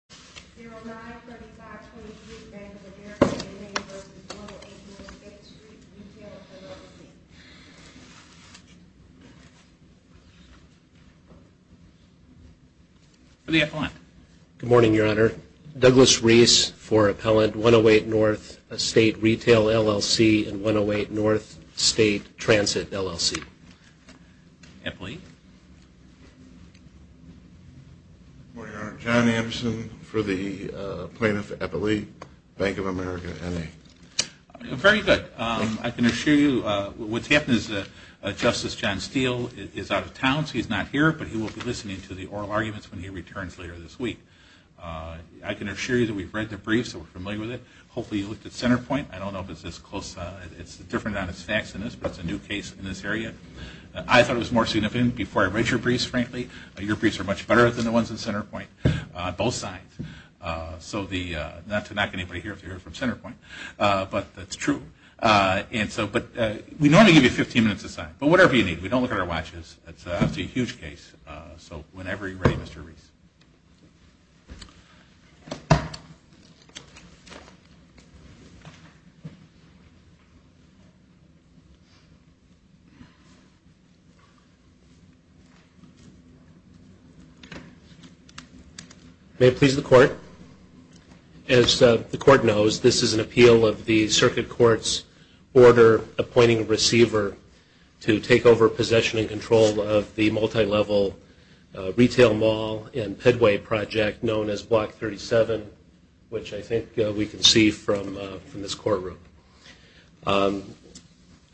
LLC and 108 N. State Transit LLC. Good morning, Your Honor. Douglas Reese for Appellant 108 N. State Retail LLC and 108 N. State Transit LLC. Eppley. Good morning, Your Honor. John Anderson for the plaintiff, Eppley, Bank of America, N.A. Very good. I can assure you what's happened is that Justice John Steele is out of town, so he's not here, but he will be listening to the oral arguments when he returns later this week. I can assure you that we've read the brief, so we're familiar with it. Hopefully you looked at Centerpoint. I don't know if it's this close. It's different on its facts than this, but it's a new case in this area. I thought it was more significant before I read your briefs, frankly. Your briefs are much better than the ones in Centerpoint on both sides. So not to knock anybody here if you're from Centerpoint, but that's true. But we normally give you 15 minutes to sign, but whatever you need. We don't look at our watches. That's a huge case. So whenever you're ready, Mr. Reese. May it please the Court. As the Court knows, this is an appeal of the Circuit Court's order appointing a receiver to take over possession and control of the multilevel retail mall and Pedway project known as Block 37, which I think we can see from this courtroom.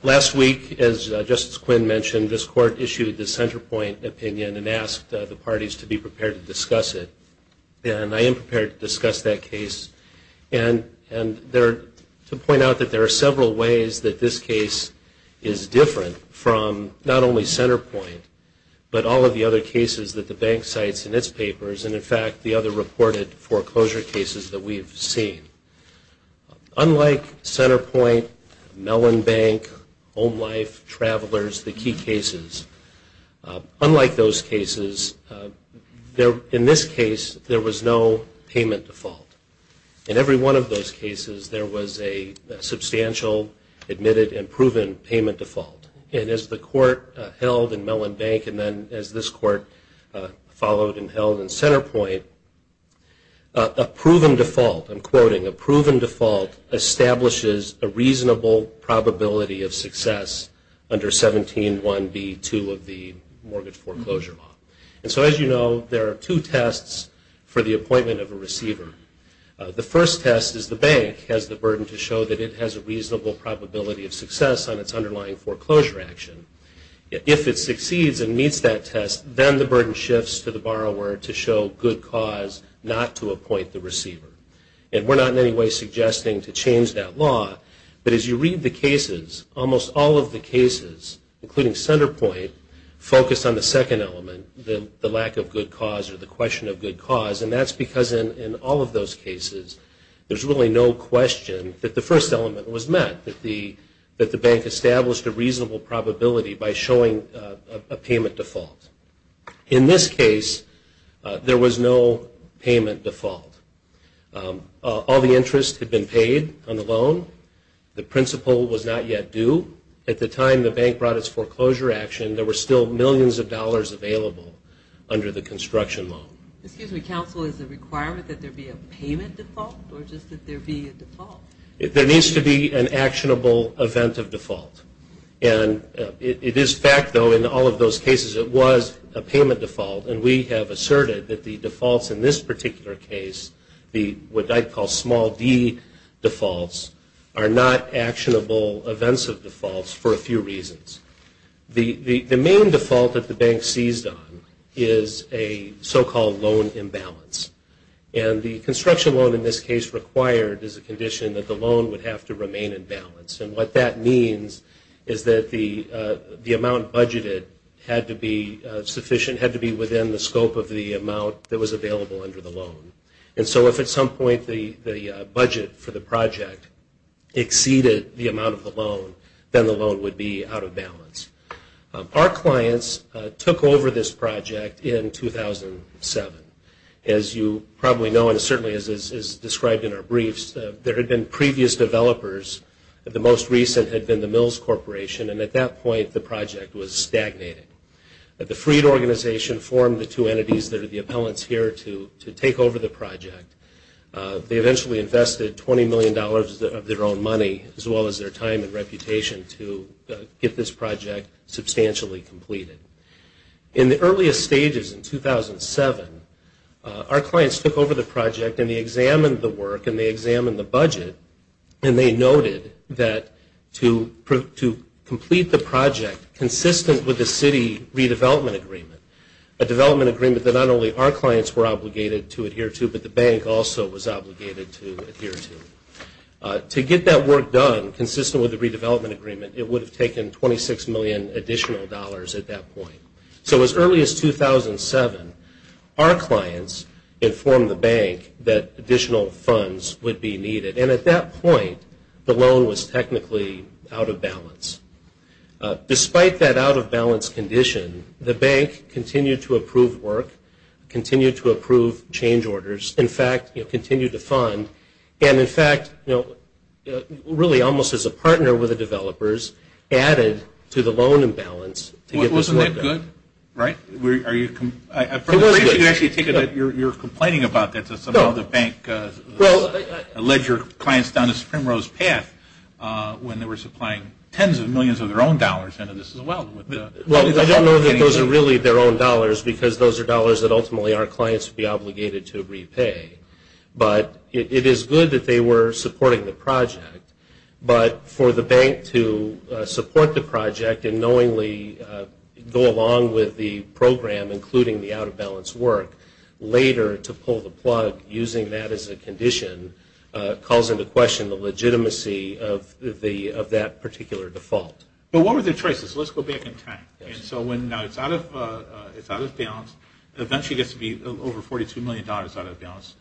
Last week, as Justice Quinn mentioned, this Court issued the Centerpoint opinion and asked the parties to be prepared to discuss it. And I am prepared to discuss that case. And to point out that there are several ways that this case is different from not only Centerpoint, but all of the other cases that the Bank cites in its papers and, in fact, the other reported foreclosure cases that we've seen. Unlike Centerpoint, Mellon Bank, Home Life, Travelers, the key cases, unlike those cases, in this case, there was no payment default. In every one of those cases, there was a substantial admitted and proven payment default. And as the Court held in Mellon Bank and then as this Court followed and held in Centerpoint, a proven default, I'm quoting, a proven default establishes a reasonable probability of success under 17.1b.2 of the Mortgage Foreclosure Law. And so, as you know, there are two tests for the appointment of a receiver. The first test is the bank has the burden to show that it has a reasonable probability of success on its underlying foreclosure action. If it succeeds and meets that test, then the burden shifts to the borrower to show good cause not to appoint the receiver. And we're not in any way suggesting to change that law, but as you read the cases, almost all of the cases, including Centerpoint, focus on the second element, the lack of good cause or the question of good cause. And that's because in all of those cases, there's really no question that the first element was met, that the bank established a reasonable probability by showing a payment default. In this case, there was no payment default. All the interest had been paid on the loan. The principal was not yet due. At the time the bank brought its foreclosure action, there were still millions of dollars available under the construction law. Excuse me, counsel, is the requirement that there be a payment default or just that there be a default? There needs to be an actionable event of default. And it is fact, though, in all of those cases, it was a payment default. And we have asserted that the defaults in this particular case, what I call small d defaults, are not actionable events of defaults for a few reasons. The main default that the bank seized on is a so-called loan imbalance. And the construction loan in this case required is a condition that the loan would have to remain in balance. And what that means is that the amount budgeted had to be sufficient, had to be within the scope of the amount that was available under the loan. And so if at some point the budget for the project exceeded the amount of the loan, then the loan would be out of balance. Our clients took over this project in 2007. As you probably know, and certainly as described in our briefs, there had been previous developers. The most recent had been the Mills Corporation. And at that point, the project was stagnating. The Freed Organization formed the two entities that are the appellants here to take over the project. They eventually invested $20 million of their own money, as well as their time and reputation, to get this project substantially completed. In the earliest stages in 2007, our clients took over the project, and they examined the work, and they examined the budget, and they noted that to complete the project consistent with the city redevelopment agreement, a development agreement that not only our clients were obligated to adhere to, but the bank also was obligated to adhere to, to get that work done consistent with the redevelopment agreement, it would have taken $26 million additional dollars at that point. So as early as 2007, our clients informed the bank that additional funds would be needed. And at that point, the loan was technically out of balance. Despite that out-of-balance condition, the bank continued to approve work, continued to approve change orders, in fact, continued to fund, and in fact, really almost as a partner with the developers, added to the loan imbalance to get this work done. Is that good? Right? For the brief, you can actually take it that you're complaining about this, as some of the bank led your clients down a spring rose path when they were supplying tens of millions of their own dollars into this as well. Well, I don't know that those are really their own dollars, because those are dollars that ultimately our clients would be obligated to repay. But it is good that they were supporting the project. But for the bank to support the project and knowingly go along with the program, including the out-of-balance work, later to pull the plug, using that as a condition, calls into question the legitimacy of that particular default. But what were their choices? Let's go back in time. And so now it's out of balance. It eventually gets to be over $42 million out of balance.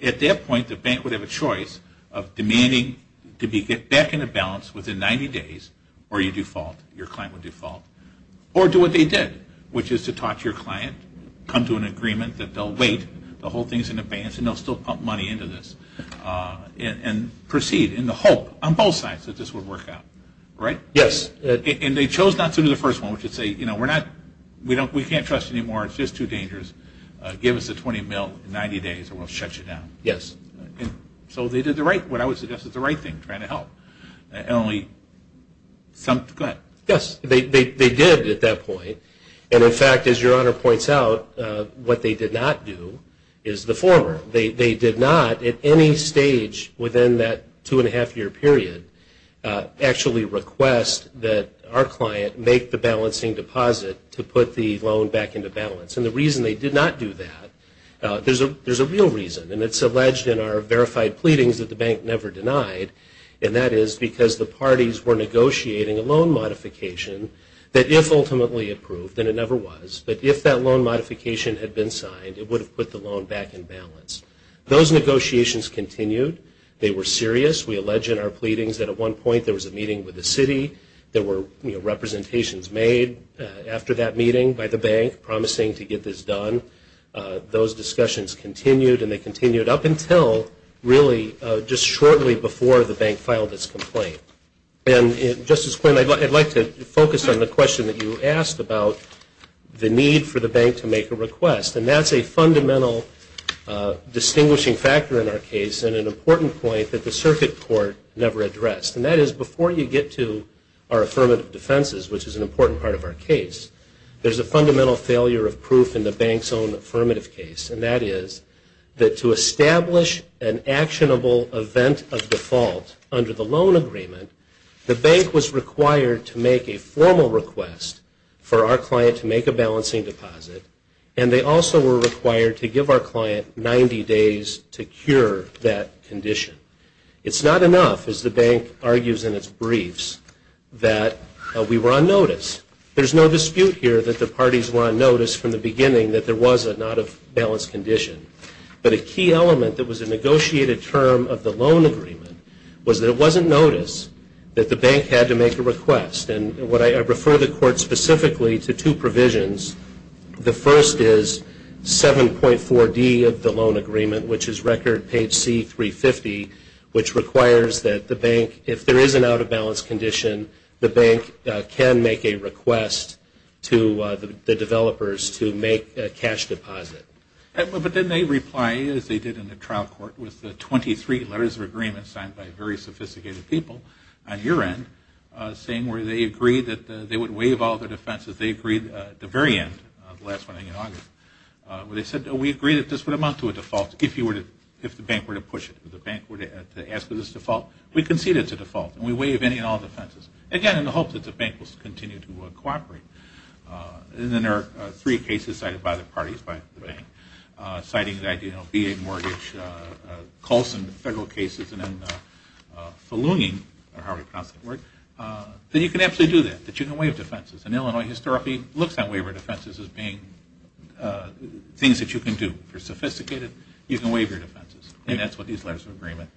At that point, the bank would have a choice of demanding to get back into balance within 90 days, or you default, your client would default, or do what they did, which is to talk to your client, come to an agreement that they'll wait, the whole thing is in abeyance, and they'll still pump money into this, and proceed in the hope on both sides that this will work out. Right? Yes. And they chose not to do the first one, which is to say, you know, we can't trust you anymore, it's just too dangerous, give us the 20 mil in 90 days and we'll shut you down. Yes. So they did the right, what I would suggest is the right thing, trying to help. And only some, go ahead. Yes, they did at that point. And, in fact, as your Honor points out, what they did not do is the former. They did not, at any stage within that two-and-a-half-year period, actually request that our client make the balancing deposit to put the loan back into balance. And the reason they did not do that, there's a real reason, and it's alleged in our verified pleadings that the bank never denied, and that is because the parties were negotiating a loan modification that, if ultimately approved, and it never was, but if that loan modification had been signed, it would have put the loan back in balance. Those negotiations continued. They were serious. We allege in our pleadings that at one point there was a meeting with the city, there were representations made after that meeting by the bank promising to get this done. Those discussions continued, and they continued up until really just shortly before the bank filed its complaint. And, Justice Quinn, I'd like to focus on the question that you asked about the need for the bank to make a request. And that's a fundamental distinguishing factor in our case and an important point that the circuit court never addressed. And that is, before you get to our affirmative defenses, which is an important part of our case, there's a fundamental failure of proof in the bank's own affirmative case, and that is that to establish an actionable event of default under the loan agreement, the bank was required to make a formal request for our client to make a balancing deposit, and they also were required to give our client 90 days to cure that condition. It's not enough, as the bank argues in its briefs, that we were on notice. There's no dispute here that the parties were on notice from the beginning that there was a not of balance condition. But a key element that was a negotiated term of the loan agreement was that it wasn't noticed that the bank had to make a request. And I refer the court specifically to two provisions. The first is 7.4D of the loan agreement, which is record page C350, which requires that the bank, if there is an out of balance condition, the bank can make a request to the developers to make a cash deposit. But then they reply, as they did in the trial court, with the 23 letters of agreement signed by very sophisticated people on your end, saying where they agreed that they would waive all their defenses. They agreed at the very end, the last one in August, where they said we agreed that this would amount to a default if the bank were to push it. If the bank were to ask for this default, we concede it's a default, and we waive any and all defenses. Again, in the hope that the bank will continue to cooperate. And then there are three cases cited by the parties, by the bank, citing that BA mortgage, Colson federal cases, and then Faluning, or however you pronounce that word, that you can actually do that, that you can waive defenses. And Illinois historically looks at waiver defenses as being things that you can do. For sophisticated, you can waive your defenses. And that's what these letters of agreement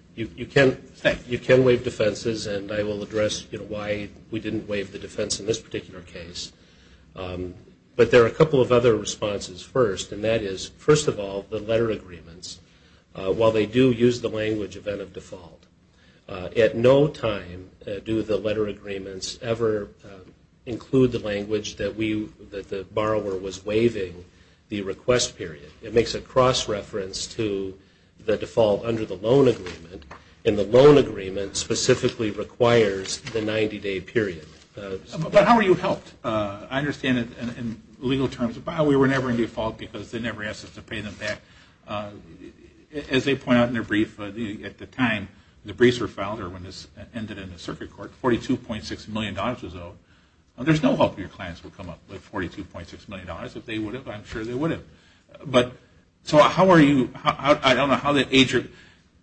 say. You can waive defenses, and I will address why we didn't waive the defense in this particular case. But there are a couple of other responses first, and that is, first of all, the letter agreements, while they do use the language event of default, at no time do the letter agreements ever include the language that the borrower was waiving the request period. It makes a cross-reference to the default under the loan agreement, and the loan agreement specifically requires the 90-day period. But how are you helped? I understand that in legal terms, we were never in default because they never asked us to pay them back. As they point out in their brief, at the time the briefs were filed, or when this ended in the circuit court, $42.6 million was owed. There's no hope your clients would come up with $42.6 million. If they would have, I'm sure they would have. But so how are you, I don't know how that age group,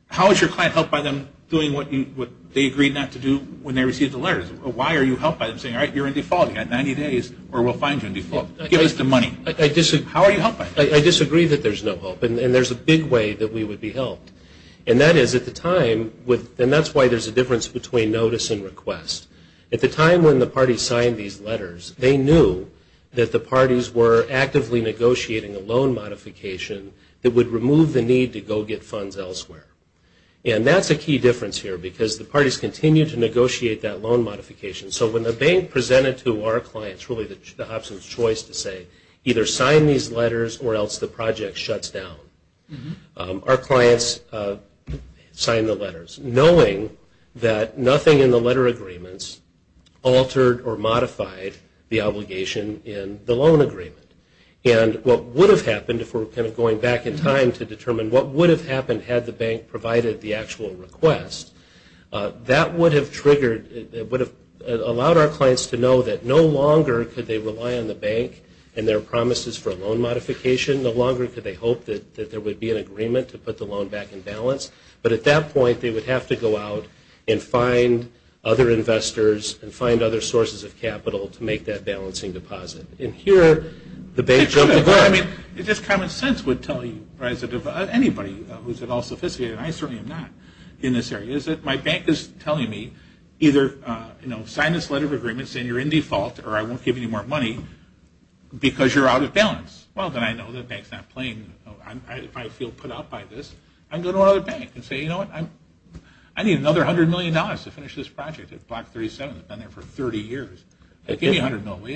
how is your client helped by them doing what they agreed not to do when they received the letters? Why are you helped by them saying, all right, you're in default, you've got 90 days, or we'll fine you in default. Give us the money. How are you helped by that? I disagree that there's no hope, and there's a big way that we would be helped. And that is, at the time, and that's why there's a difference between notice and request. At the time when the parties signed these letters, they knew that the parties were actively negotiating a loan modification that would remove the need to go get funds elsewhere. And that's a key difference here because the parties continue to negotiate that loan modification. So when the bank presented to our clients, really the Hobson's choice to say, either sign these letters or else the project shuts down. Our clients signed the letters knowing that nothing in the letter agreements altered or modified the obligation in the loan agreement. And what would have happened if we were kind of going back in time to determine what would have happened had the bank provided the actual request, that would have triggered, allowed our clients to know that no longer could they rely on the bank and their promises for a loan modification. No longer could they hope that there would be an agreement to put the loan back in balance. But at that point, they would have to go out and find other investors and find other sources of capital to make that balancing deposit. And here, the bank jumped the gun. I mean, just common sense would tell you, anybody who's at all sophisticated, and I certainly am not in this area, is that my bank is telling me either sign this letter of agreement saying you're in default or I won't give you any more money because you're out of balance. Well, then I know the bank's not playing. If I feel put out by this, I can go to another bank and say, you know what, I need another $100 million to finish this project. Block 37 has been there for 30 years. Give me $100 million, will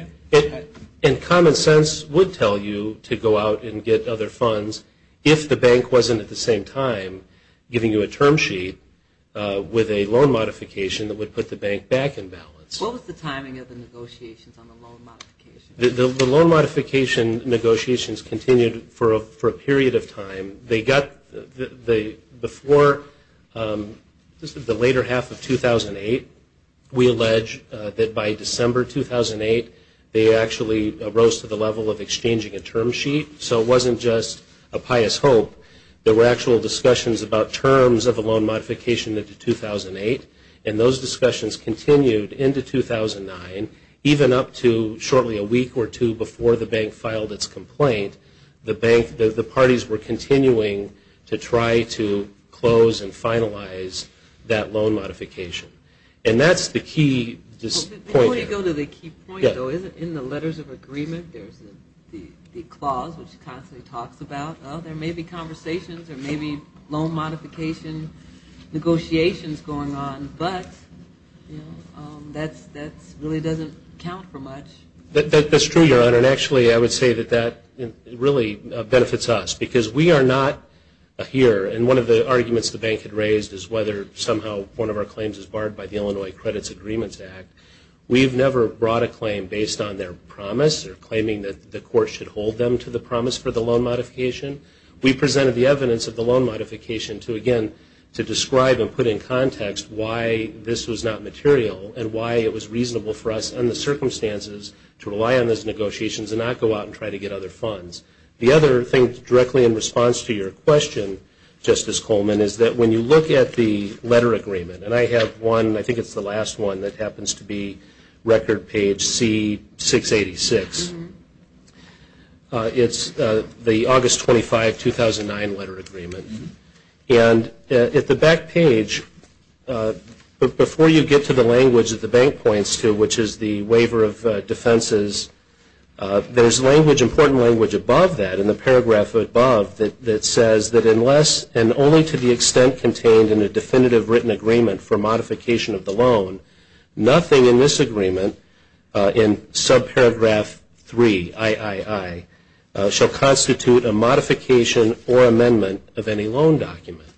you? And common sense would tell you to go out and get other funds if the bank wasn't at the same time giving you a term sheet with a loan modification that would put the bank back in balance. What was the timing of the negotiations on the loan modification? The loan modification negotiations continued for a period of time. Before the later half of 2008, we allege that by December 2008, they actually rose to the level of exchanging a term sheet. So it wasn't just a pious hope. There were actual discussions about terms of a loan modification into 2008, and those discussions continued into 2009, even up to shortly a week or two before the bank filed its complaint. The parties were continuing to try to close and finalize that loan modification. And that's the key point here. Before you go to the key point, though, in the letters of agreement, there's the clause which constantly talks about, oh, there may be conversations or maybe loan modification negotiations going on, but that really doesn't count for much. That's true, Your Honor, and actually I would say that that really benefits us because we are not here, and one of the arguments the bank had raised is whether somehow one of our claims is barred by the Illinois Credits Agreements Act. We've never brought a claim based on their promise or claiming that the court should hold them to the promise for the loan modification. We presented the evidence of the loan modification to, again, to describe and put in context why this was not material and why it was reasonable for us and the circumstances to rely on those negotiations and not go out and try to get other funds. The other thing directly in response to your question, Justice Coleman, is that when you look at the letter agreement, and I have one, I think it's the last one that happens to be record page C-686. It's the August 25, 2009 letter agreement, and at the back page, before you get to the language that the bank points to, which is the waiver of defenses, there's important language above that in the paragraph above that says that unless and only to the extent contained in a definitive written agreement for modification of the loan, nothing in this agreement in subparagraph 3-III shall constitute a modification or amendment of any loan document.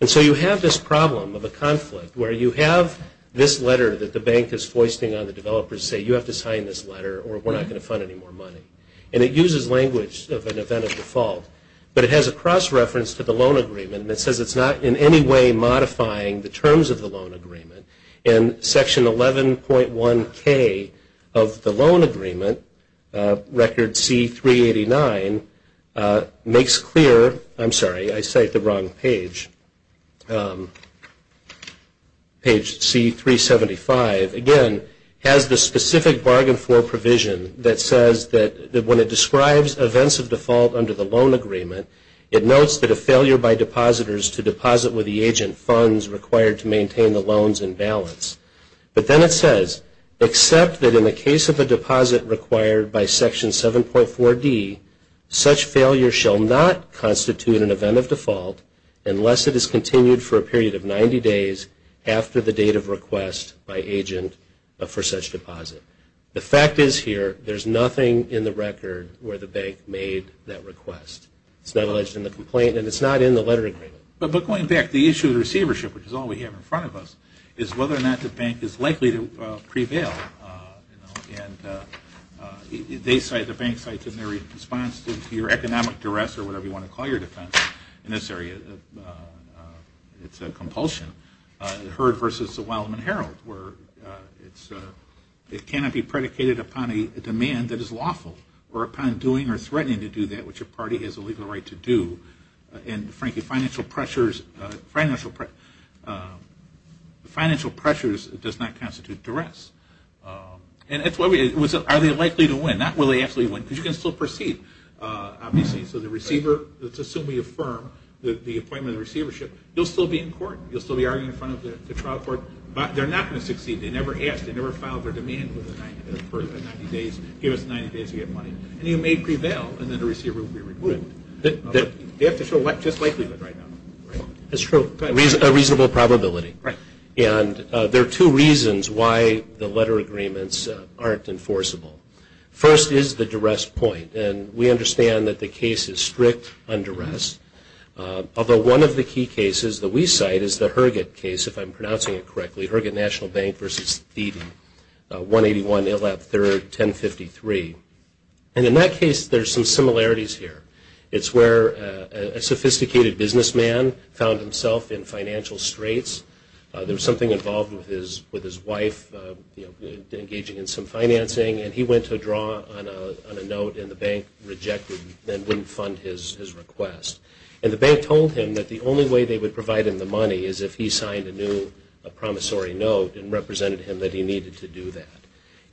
And so you have this problem of a conflict where you have this letter that the bank is foisting on the developers to say you have to sign this letter or we're not going to fund any more money. And it uses language of an event of default, but it has a cross-reference to the loan agreement and it says it's not in any way modifying the terms of the loan agreement. And section 11.1K of the loan agreement, record C-389, makes clear, I'm sorry, I cite the wrong page, page C-375, again, has the specific bargain floor provision that says that when it describes events of default under the loan agreement, it notes that a failure by depositors to deposit with the agent funds required to maintain the loans in balance. But then it says, except that in the case of a deposit required by section 7.4D, such failure shall not constitute an event of default unless it is continued for a period of 90 days after the date of request by agent for such deposit. The fact is here, there's nothing in the record where the bank made that request. It's not alleged in the complaint and it's not in the letter agreement. But going back to the issue of receivership, which is all we have in front of us, is whether or not the bank is likely to prevail. And they cite, the bank cites in their response to your economic duress or whatever you want to call your defense in this area, it's a compulsion. Heard versus the Wildman Herald where it cannot be predicated upon a demand that is lawful or upon doing or threatening to do that which a party has a legal right to do. And frankly, financial pressures does not constitute duress. And that's why we, are they likely to win? Not will they actually win because you can still proceed, obviously. So the receiver, let's assume we affirm the appointment of receivership, you'll still be in court. You'll still be arguing in front of the trial court. But they're not going to succeed. They never asked. They never filed their demand for 90 days, give us 90 days to get money. And you may prevail and then the receiver will be removed. They have to show just likelihood right now. That's true. A reasonable probability. Right. And there are two reasons why the letter agreements aren't enforceable. First is the duress point. And we understand that the case is strict on duress. Although one of the key cases that we cite is the Herget case, if I'm pronouncing it correctly, Herget National Bank v. Thiede, 181 Illap 3rd, 1053. And in that case, there's some similarities here. It's where a sophisticated businessman found himself in financial straits. There was something involved with his wife engaging in some financing, and he went to draw on a note and the bank rejected and wouldn't fund his request. And the bank told him that the only way they would provide him the money is if he signed a new promissory note and represented him that he needed to do that.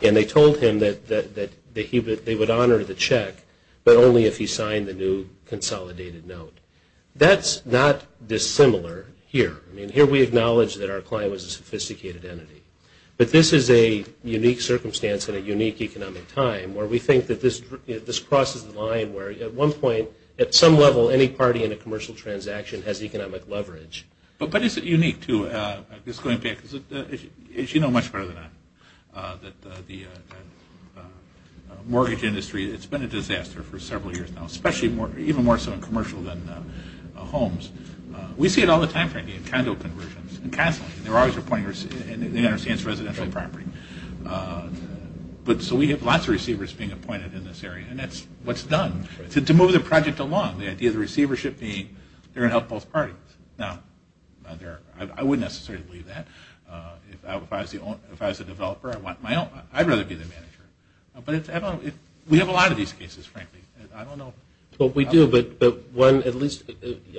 And they told him that they would honor the check, but only if he signed the new consolidated note. That's not dissimilar here. I mean, here we acknowledge that our client was a sophisticated entity. But this is a unique circumstance and a unique economic time where we think that this crosses the line where, at one point, at some level, any party in a commercial transaction has economic leverage. But is it unique to this going back? As you know much better than I, that the mortgage industry, it's been a disaster for several years now, especially even more so in commercial than homes. We see it all the time, frankly, in condo conversions and counseling. They understand it's residential property. So we have lots of receivers being appointed in this area, and that's what's done. To move the project along, the idea of the receivership being they're going to help both parties. Now, I wouldn't necessarily believe that. If I was the developer, I'd rather be the manager. But we have a lot of these cases, frankly. I don't know. Well, we do.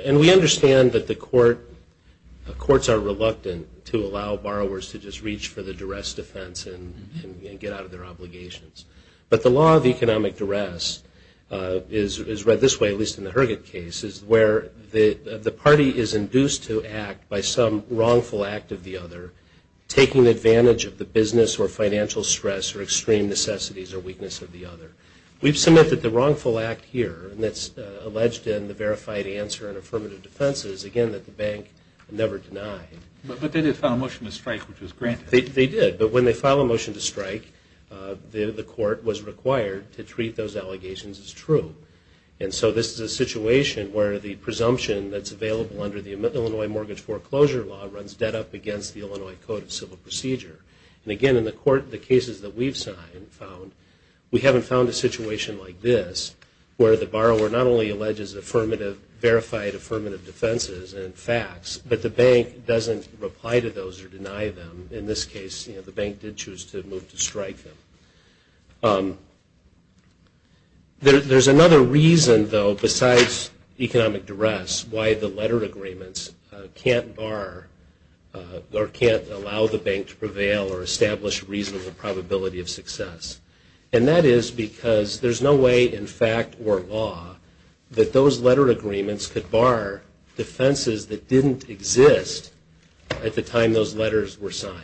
And we understand that the courts are reluctant to allow borrowers to just reach for the duress defense and get out of their obligations. But the law of economic duress is read this way, at least in the Herget case, where the party is induced to act by some wrongful act of the other, taking advantage of the business or financial stress or extreme necessities or weakness of the other. We've submitted the wrongful act here, and it's alleged in the verified answer and affirmative defenses, again, that the bank never denied. But they did file a motion to strike, which was granted. They did. But when they file a motion to strike, the court was required to treat those allegations as true. And so this is a situation where the presumption that's available under the Illinois Mortgage Foreclosure Law runs dead up against the Illinois Code of Civil Procedure. And, again, in the cases that we've signed and found, we haven't found a situation like this, where the borrower not only alleges affirmative, verified affirmative defenses and facts, but the bank doesn't reply to those or deny them. In this case, the bank did choose to move to strike them. There's another reason, though, besides economic duress, why the letter agreements can't bar or can't allow the bank to prevail or establish a reasonable probability of success. And that is because there's no way in fact or law that those letter agreements could bar defenses that didn't exist at the time those letters were signed.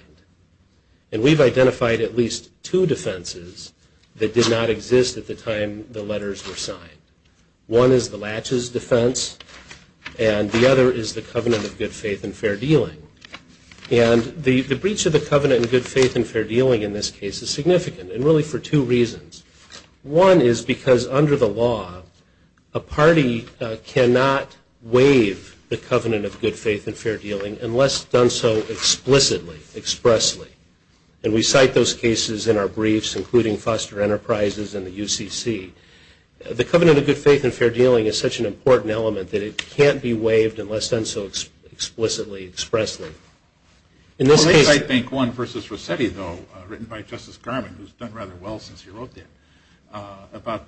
And we've identified at least two defenses that did not exist at the time the letters were signed. One is the Latches defense, and the other is the Covenant of Good Faith and Fair Dealing. And the breach of the Covenant of Good Faith and Fair Dealing in this case is significant, and really for two reasons. One is because under the law, a party cannot waive the Covenant of Good Faith and Fair Dealing unless done so explicitly, expressly. And we cite those cases in our briefs, including Foster Enterprises and the UCC. The Covenant of Good Faith and Fair Dealing is such an important element that it can't be waived unless done so explicitly, expressly. In this case, I think one versus Rossetti, though, written by Justice Garland, who's done rather well since he wrote that, about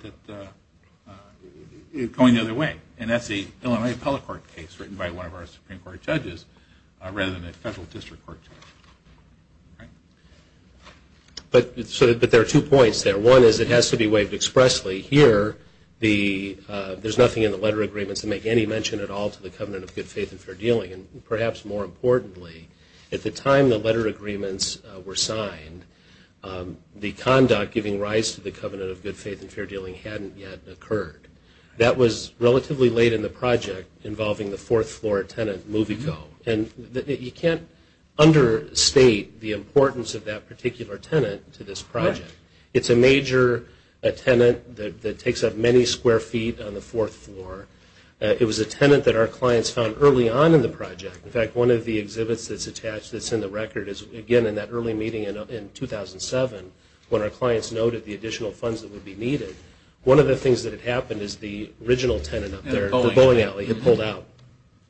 going the other way. And that's the Illinois Appellate Court case written by one of our Supreme Court judges rather than a federal district court judge. But there are two points there. One is it has to be waived expressly. Here, there's nothing in the letter agreements to make any mention at all to the Covenant of Good Faith and Fair Dealing. And perhaps more importantly, at the time the letter agreements were signed, the conduct giving rise to the Covenant of Good Faith and Fair Dealing hadn't yet occurred. That was relatively late in the project involving the fourth-floor tenant, Movico. And you can't understate the importance of that particular tenant to this project. It's a major tenant that takes up many square feet on the fourth floor. It was a tenant that our clients found early on in the project. In fact, one of the exhibits that's attached that's in the record is, again, in that early meeting in 2007 when our clients noted the additional funds that would be needed. One of the things that had happened is the original tenant up there, the bowling alley, had pulled out.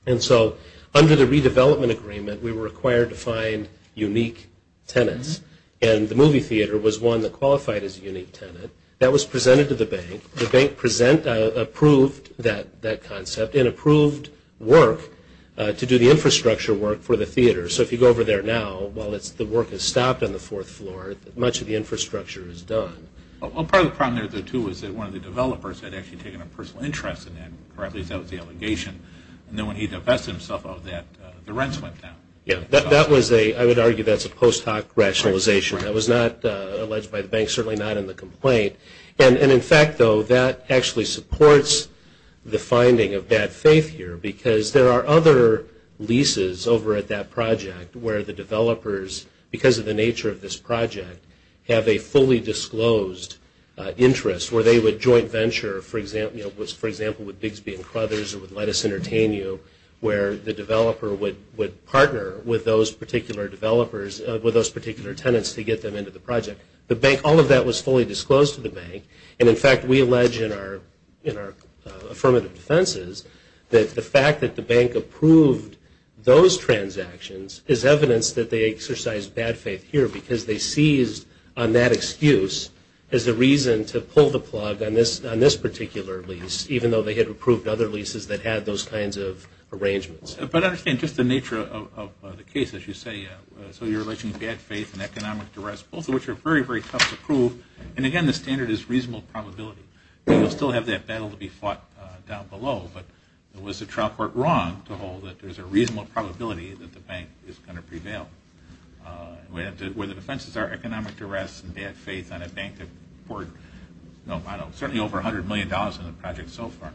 And so under the redevelopment agreement, we were required to find unique tenants. And the movie theater was one that qualified as a unique tenant. That was presented to the bank. The bank approved that concept and approved work to do the infrastructure work for the theater. So if you go over there now, while the work has stopped on the fourth floor, much of the infrastructure is done. Well, part of the problem there, too, was that one of the developers had actually taken a personal interest in that, or at least that was the allegation. And then when he divested himself of that, the rents went down. I would argue that's a post hoc rationalization. That was not alleged by the bank, certainly not in the complaint. And in fact, though, that actually supports the finding of bad faith here because there are other leases over at that project where the developers, because of the nature of this project, have a fully disclosed interest, where they would joint venture, for example, with Bigsby and Crothers or with Let Us Entertain You, where the developer would partner with those particular developers, with those particular tenants, to get them into the project. The bank, all of that was fully disclosed to the bank. And in fact, we allege in our affirmative defenses that the fact that the bank approved those transactions is evidence that they exercised bad faith here because they seized on that excuse as the reason to pull the plug on this particular lease, even though they had approved other leases that had those kinds of arrangements. But I understand just the nature of the case, as you say. So you're alleging bad faith and economic duress, both of which are very, very tough to prove. And again, the standard is reasonable probability. We will still have that battle to be fought down below, but was the trial court wrong to hold that there's a reasonable probability that the bank is going to prevail? Where the defenses are economic duress and bad faith on a bank that poured, I don't know, certainly over $100 million in the project so far.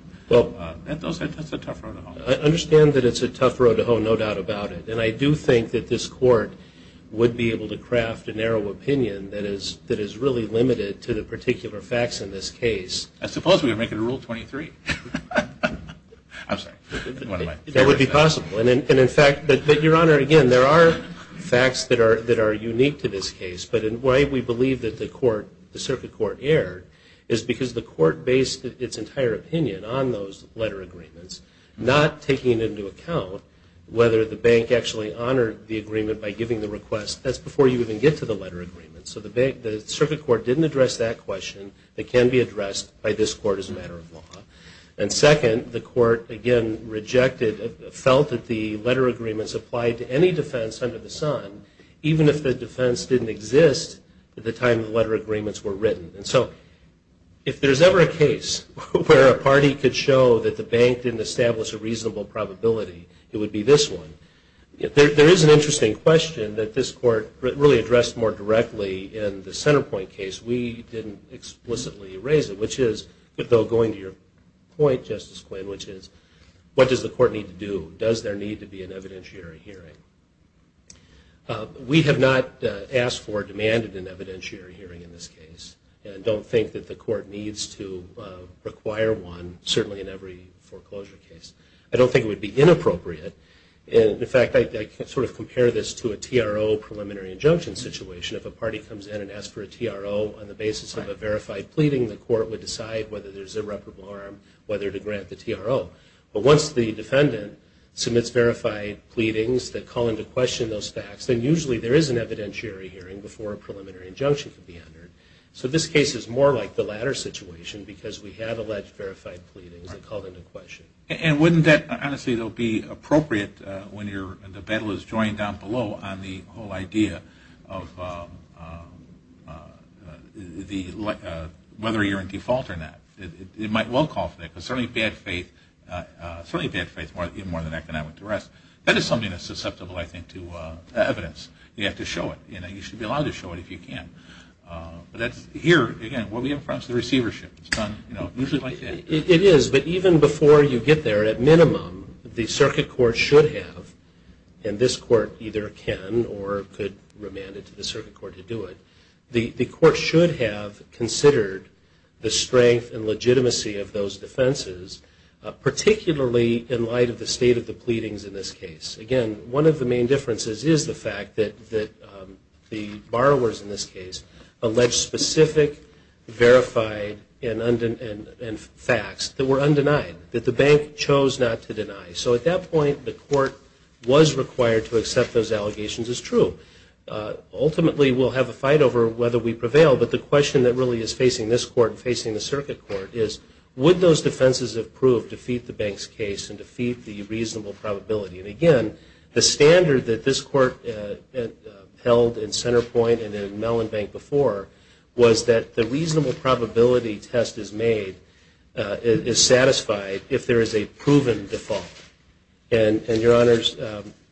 That's a tough road to hoe. I understand that it's a tough road to hoe, no doubt about it. And I do think that this court would be able to craft a narrow opinion that is really limited to the particular facts in this case. I suppose we would make it a Rule 23. I'm sorry. That would be possible. And in fact, Your Honor, again, there are facts that are unique to this case. But why we believe that the circuit court erred is because the court based its entire opinion on those letter agreements, not taking into account whether the bank actually honored the agreement by giving the request. That's before you even get to the letter agreement. So the circuit court didn't address that question. It can be addressed by this court as a matter of law. And second, the court, again, rejected, felt that the letter agreements applied to any defense under the sun, even if the defense didn't exist at the time the letter agreements were written. And so if there's ever a case where a party could show that the bank didn't establish a reasonable probability, it would be this one. There is an interesting question that this court really addressed more directly in the center point case. We didn't explicitly raise it, which is, though going to your point, Justice Quinn, which is, what does the court need to do? Does there need to be an evidentiary hearing? We have not asked for or demanded an evidentiary hearing in this case and don't think that the court needs to require one, certainly in every foreclosure case. I don't think it would be inappropriate. In fact, I sort of compare this to a TRO, preliminary injunction situation. If a party comes in and asks for a TRO on the basis of a verified pleading, the court would decide whether there's irreparable harm, whether to grant the TRO. But once the defendant submits verified pleadings that call into question those facts, then usually there is an evidentiary hearing before a preliminary injunction can be entered. So this case is more like the latter situation because we have alleged verified pleadings that call into question. And wouldn't that, honestly, it will be appropriate when the battle is joined down below on the whole idea of whether you're in default or not. It might well call for that because certainly bad faith is more than economic duress. That is something that's susceptible, I think, to evidence. You have to show it. You should be allowed to show it if you can. Here, again, what we have in front is the receivership. It's done usually like that. It is. But even before you get there, at minimum, the circuit court should have, and this court either can or could remand it to the circuit court to do it, the court should have considered the strength and legitimacy of those defenses, particularly in light of the state of the pleadings in this case. Again, one of the main differences is the fact that the borrowers in this case alleged specific verified and facts that were undenied, that the bank chose not to deny. So at that point, the court was required to accept those allegations as true. Ultimately, we'll have a fight over whether we prevail, but the question that really is facing this court and facing the circuit court is would those defenses have proved to feed the bank's case and to feed the reasonable probability? And again, the standard that this court held in Centerpoint and in Mellon Bank before was that the reasonable probability test is made, is satisfied, if there is a proven default. And, Your Honors,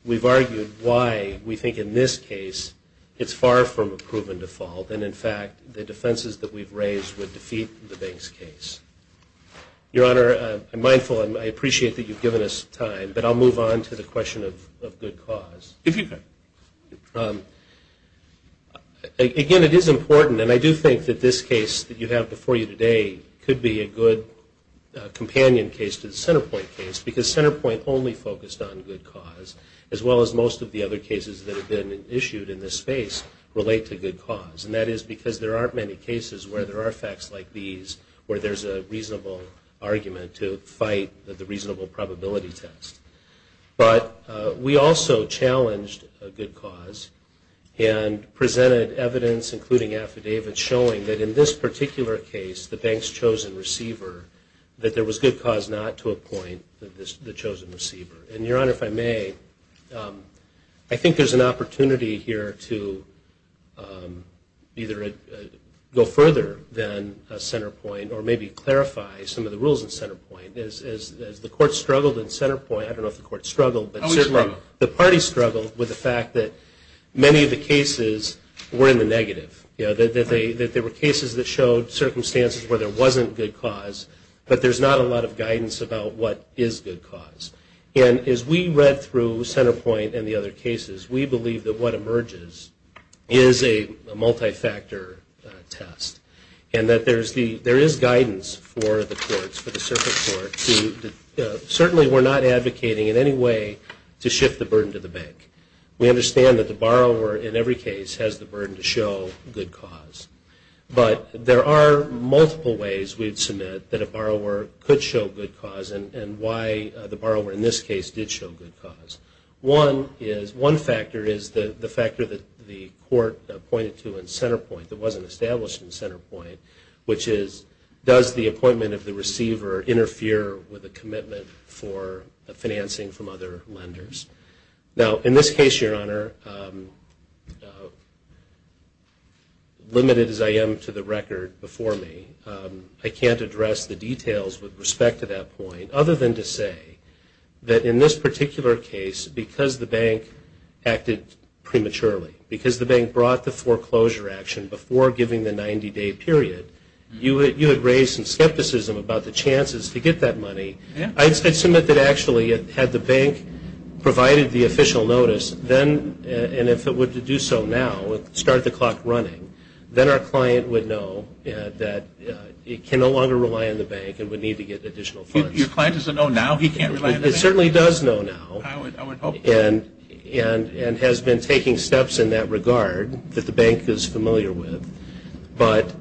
we've argued why we think in this case it's far from a proven default, and in fact, the defenses that we've raised would defeat the bank's case. Your Honor, I'm mindful and I appreciate that you've given us time, but I'll move on to the question of good cause. If you could. Again, it is important, and I do think that this case that you have before you today could be a good companion case to the Centerpoint case, because Centerpoint only focused on good cause, as well as most of the other cases that have been issued in this space relate to good cause. And that is because there aren't many cases where there are facts like these where there's a reasonable argument to fight the reasonable probability test. But we also challenged good cause and presented evidence, including affidavits, showing that in this particular case, the bank's chosen receiver, that there was good cause not to appoint the chosen receiver. And, Your Honor, if I may, I think there's an opportunity here to either go further than Centerpoint or maybe clarify some of the rules in Centerpoint. As the Court struggled in Centerpoint, I don't know if the Court struggled, but certainly the parties struggled with the fact that many of the cases were in the negative, that there were cases that showed circumstances where there wasn't good cause, but there's not a lot of guidance about what is good cause. And as we read through Centerpoint and the other cases, we believe that what emerges is a multi-factor test, and that there is guidance for the courts, for the circuit court, certainly we're not advocating in any way to shift the burden to the bank. We understand that the borrower in every case has the burden to show good cause. But there are multiple ways we'd submit that a borrower could show good cause and why the borrower in this case did show good cause. One factor is the factor that the Court pointed to in Centerpoint that wasn't established in Centerpoint, which is, does the appointment of the receiver interfere with the commitment for financing from other lenders? Now, in this case, Your Honor, limited as I am to the record before me, I can't address the details with respect to that point other than to say that in this particular case, because the bank acted prematurely, because the bank brought the foreclosure action before giving the 90-day period, you had raised some skepticism about the chances to get that money. I'd submit that actually had the bank provided the official notice, then and if it were to do so now, start the clock running, then our client would know that it can no longer rely on the bank and would need to get additional funds. Your client doesn't know now he can't rely on the bank? It certainly does know now. I would hope so. And has been taking steps in that regard that the bank is familiar with. But...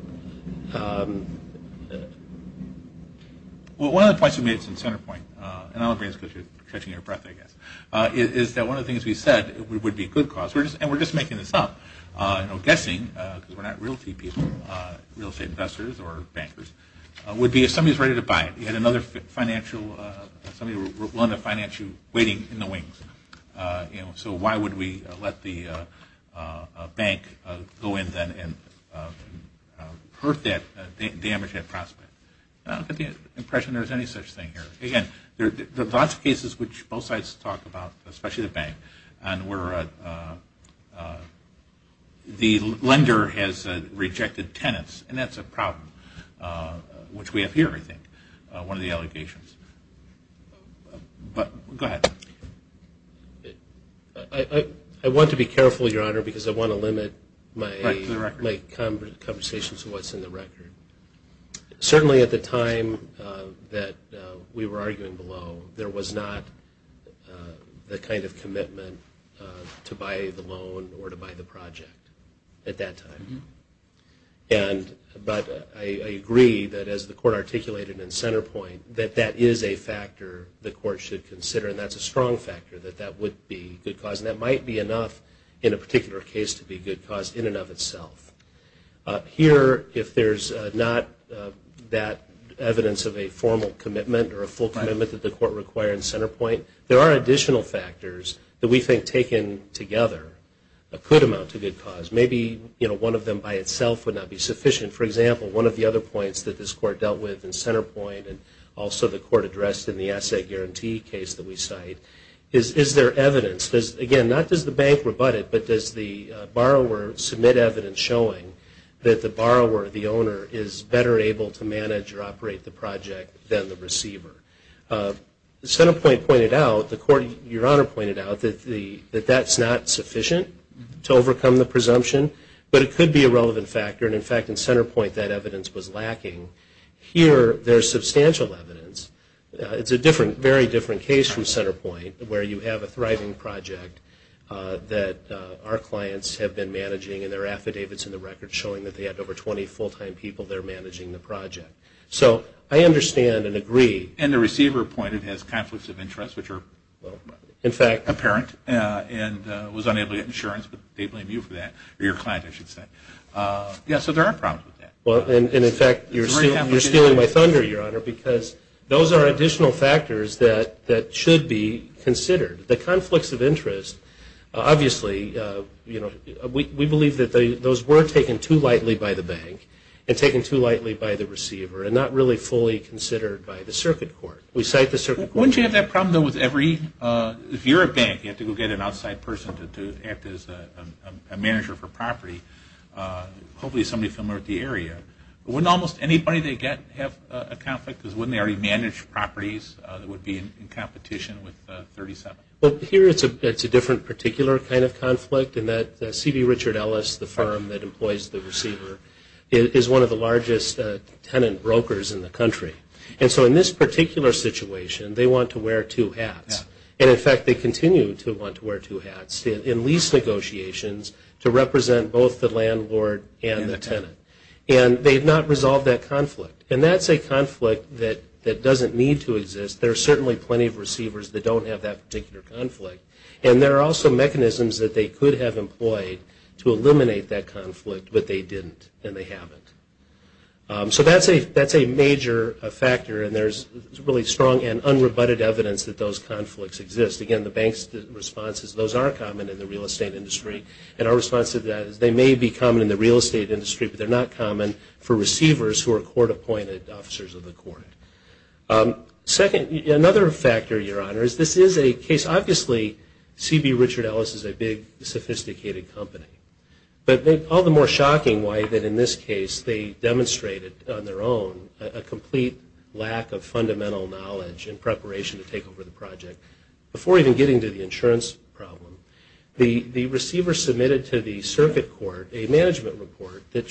Well, one of the points you made in Centerpoint, and I don't know if it's because you're catching your breath, I guess, is that one of the things we said would be a good cause, and we're just making this up, you know, guessing, because we're not realty people, real estate investors or bankers, would be if somebody's ready to buy it, you had another financial, somebody willing to finance you, waiting in the wings, you know, so why would we let the bank go in then and hurt that, damage that prospect? I don't get the impression there's any such thing here. Again, there are lots of cases which both sides talk about, especially the bank, and where the lender has rejected tenants, and that's a problem, which we have here, I think, one of the allegations. Go ahead. I want to be careful, Your Honor, because I want to limit my conversations to what's in the record. Certainly at the time that we were arguing below, there was not the kind of commitment to buy the loan or to buy the project at that time. But I agree that as the court articulated in Centerpoint, that that is a factor the court should consider, and that's a strong factor that that would be good cause, and that might be enough in a particular case to be good cause in and of itself. Here, if there's not that evidence of a formal commitment or a full commitment that the court required in Centerpoint, there are additional factors that we think taken together could amount to good cause. Maybe one of them by itself would not be sufficient. For example, one of the other points that this court dealt with in Centerpoint, and also the court addressed in the asset guarantee case that we cite, is there evidence? Again, not does the bank rebut it, but does the borrower submit evidence showing that the borrower, the owner, is better able to manage or operate the project than the receiver? Centerpoint pointed out, the court, Your Honor pointed out, that that's not a presumption, but it could be a relevant factor, and in fact, in Centerpoint, that evidence was lacking. Here, there's substantial evidence. It's a different, very different case from Centerpoint, where you have a thriving project that our clients have been managing, and there are affidavits in the record showing that they had over 20 full-time people there managing the project. So I understand and agree. And the receiver pointed has conflicts of interest, which are apparent, and was unable to get insurance, but they blame you for that, or your client, I should say. Yeah, so there are problems with that. Well, and in fact, you're stealing my thunder, Your Honor, because those are additional factors that should be considered. The conflicts of interest, obviously, you know, we believe that those were taken too lightly by the bank, and taken too lightly by the receiver, and not really fully considered by the circuit court. We cite the circuit court. Wouldn't you have that problem, though, with every – if you're a bank, you have to go get an outside person to act as a manager for property, hopefully somebody familiar with the area. Wouldn't almost anybody they get have a conflict, because wouldn't they already manage properties that would be in competition with 37? Well, here it's a different particular kind of conflict, in that C.B. Richard Ellis, the firm that employs the receiver, is one of the largest tenant brokers in the country. And so in this particular situation, they want to wear two hats. And, in fact, they continue to want to wear two hats in lease negotiations to represent both the landlord and the tenant. And they've not resolved that conflict. And that's a conflict that doesn't need to exist. There are certainly plenty of receivers that don't have that particular conflict, and there are also mechanisms that they could have employed to eliminate that conflict, but they didn't, and they haven't. So that's a major factor, and there's really strong and unrebutted evidence that those conflicts exist. Again, the bank's response is those are common in the real estate industry, and our response to that is they may be common in the real estate industry, but they're not common for receivers who are court-appointed officers of the court. Second, another factor, Your Honor, is this is a case, obviously, C.B. Richard Ellis is a big, sophisticated company. But all the more shocking why, in this case, they demonstrated on their own a complete lack of fundamental knowledge and preparation to take over the project. Before even getting to the insurance problem, the receiver submitted to the circuit court a management report that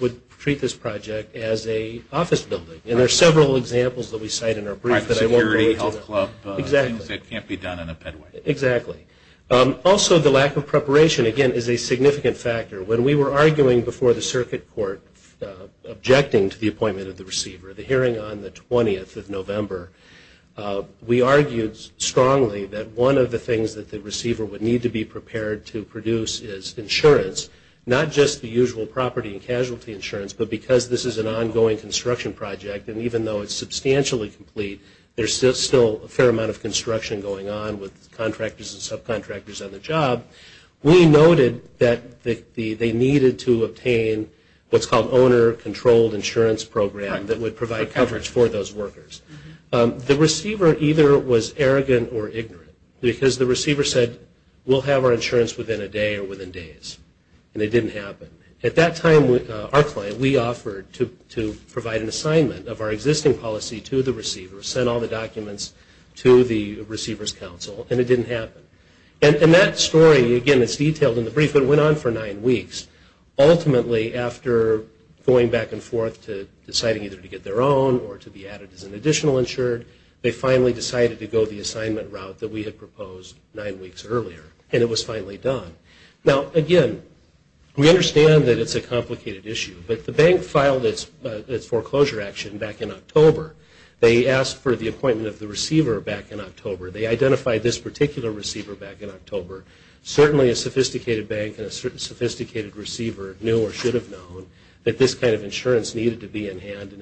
would treat this project as a office building. And there are several examples that we cite in our brief that I won't go into. Security, health club, things that can't be done in a ped way. Exactly. Also, the lack of preparation, again, is a significant factor. When we were arguing before the circuit court, objecting to the appointment of the receiver, the hearing on the 20th of November, we argued strongly that one of the things that the receiver would need to be prepared to produce is insurance, not just the usual property and casualty insurance, but because this is an ongoing construction project, and even though it's substantially complete, there's still a fair amount of construction going on with contractors and subcontractors on the job. We noted that they needed to obtain what's called owner-controlled insurance program that would provide coverage for those workers. The receiver either was arrogant or ignorant, because the receiver said, we'll have our insurance within a day or within days. And it didn't happen. At that time, our client, we offered to provide an assignment of our existing policy to the receiver, sent all the documents to the receiver's counsel, and it didn't happen. And that story, again, it's detailed in the brief, but it went on for nine weeks. Ultimately, after going back and forth to deciding either to get their own or to be added as an additional insured, they finally decided to go the assignment route that we had proposed nine weeks earlier, and it was finally done. Now, again, we understand that it's a complicated issue, but the bank filed its foreclosure action back in October. They asked for the appointment of the receiver back in October. They identified this particular receiver back in October. Certainly a sophisticated bank and a sophisticated receiver knew or should have known that this kind of insurance needed to be in hand,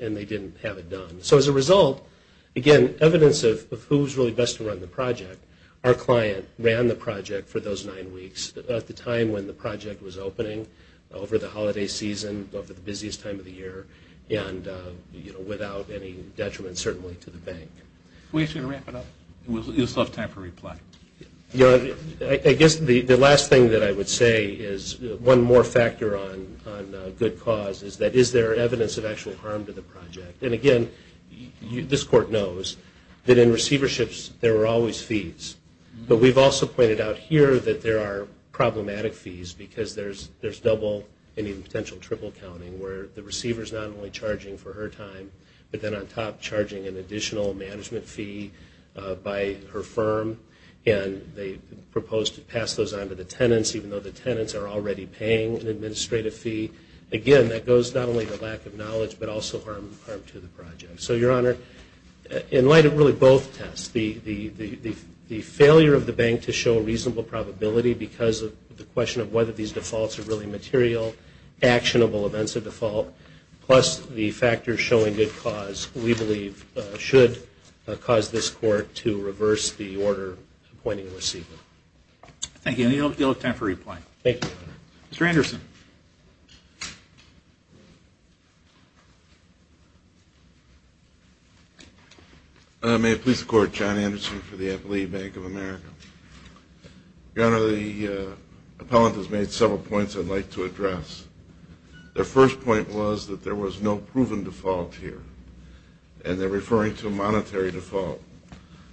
and they didn't have it done. So as a result, again, evidence of who's really best to run the project, our client ran the project for those nine weeks. At the time when the project was opening over the holiday season, both at the busiest time of the year and, you know, without any detriment certainly to the bank. We should wrap it up. We just have time for reply. I guess the last thing that I would say is one more factor on good cause is that is there evidence of actual harm to the project? And, again, this court knows that in receiverships there are always fees, but we've also pointed out here that there are problematic fees because there's double and even potential triple counting where the receiver is not only charging for her time but then on top charging an additional management fee by her firm, and they propose to pass those on to the tenants even though the tenants are already paying an administrative fee. Again, that goes not only to lack of knowledge but also harm to the project. So, Your Honor, in light of really both tests, the failure of the bank to show a reasonable probability because of the defaults are really material, actionable events of default, plus the factors showing good cause we believe should cause this court to reverse the order appointing the receiver. Thank you, and you'll have time for reply. Thank you. Mr. Anderson. May it please the Court, John Anderson for the Appellee Bank of America. Your Honor, the appellant has made several points I'd like to address. Their first point was that there was no proven default here, and they're referring to a monetary default.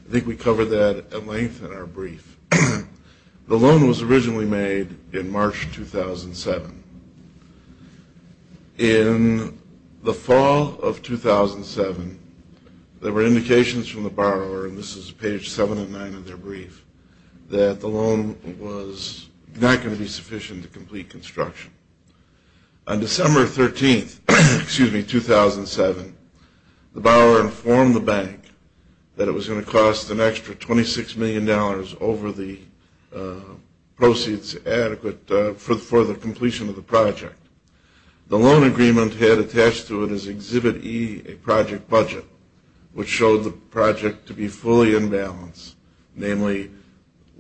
I think we covered that at length in our brief. The loan was originally made in March 2007. In the fall of 2007, there were indications from the borrower, and this is page 7 and 9 of their brief, that the loan was not going to be sufficient to complete construction. On December 13th, 2007, the borrower informed the bank that it was going to cost an extra $26 million over the proceeds adequate for the completion of the project. The loan agreement had attached to it as Exhibit E a project budget, which showed the project to be fully in balance, namely,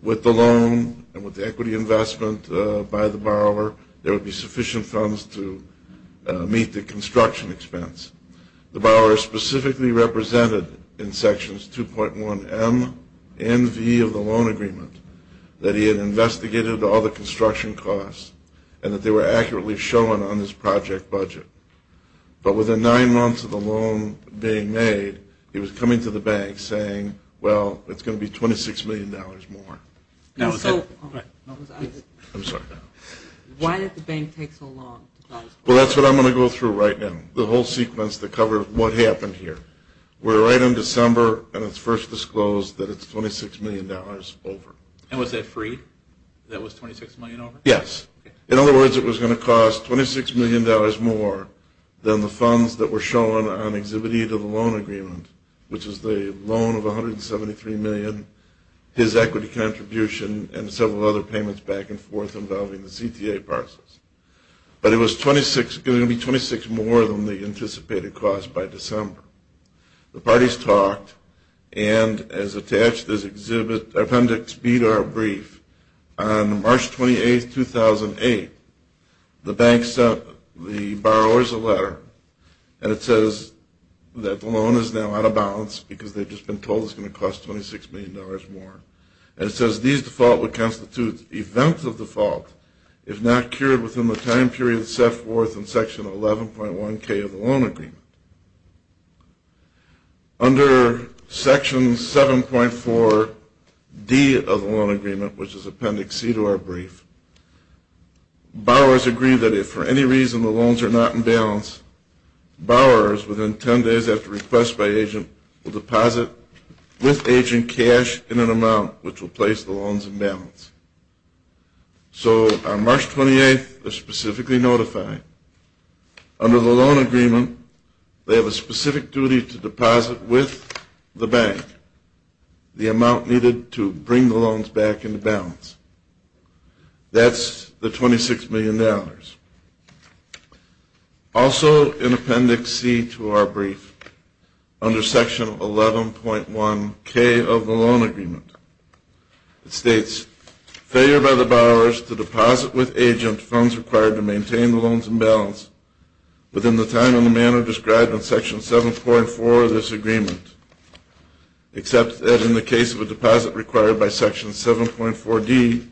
with the loan and with the equity investment by the borrower, there would be sufficient funds to meet the construction expense. The borrower specifically represented in Sections 2.1M and V of the loan agreement that he had investigated all the construction costs and that they were accurately shown on his project budget. But within nine months of the loan being made, he was coming to the bank saying, well, it's going to be $26 million more. I'm sorry. Why did the bank take so long? Well, that's what I'm going to go through right now, the whole sequence to cover what happened here. We're right in December, and it's first disclosed that it's $26 million over. And was that free? That was $26 million over? Yes. In other words, it was going to cost $26 million more than the funds that were shown on Exhibit E to the loan agreement, which is the loan of $173 million, his equity contribution, and several other payments back and forth involving the CTA parcels. But it was going to be $26 more than the anticipated cost by December. The parties talked, and as attached to this appendix, speed art brief, on March 28, 2008, the bank sent the borrowers a letter, and it says that the loan is now out of balance because they've just been told it's going to cost $26 million more. And it says, these default would constitute events of default if not cured within the time period set forth in Section 11.1K of the loan agreement. Under Section 7.4D of the loan agreement, which is Appendix C to our brief, borrowers agree that if for any reason the loans are not in balance, borrowers, within 10 days after request by agent, will deposit with agent cash in an amount which will place the loans in balance. So on March 28, they're specifically notified. Under the loan agreement, they have a specific duty to deposit with the bank the amount needed to bring the loans back into balance. That's the $26 million. Also in Appendix C to our brief, under Section 11.1K of the loan agreement, it states failure by the borrowers to deposit with agent funds required to within the time and the manner described in Section 7.4 of this agreement, except that in the case of a deposit required by Section 7.4D,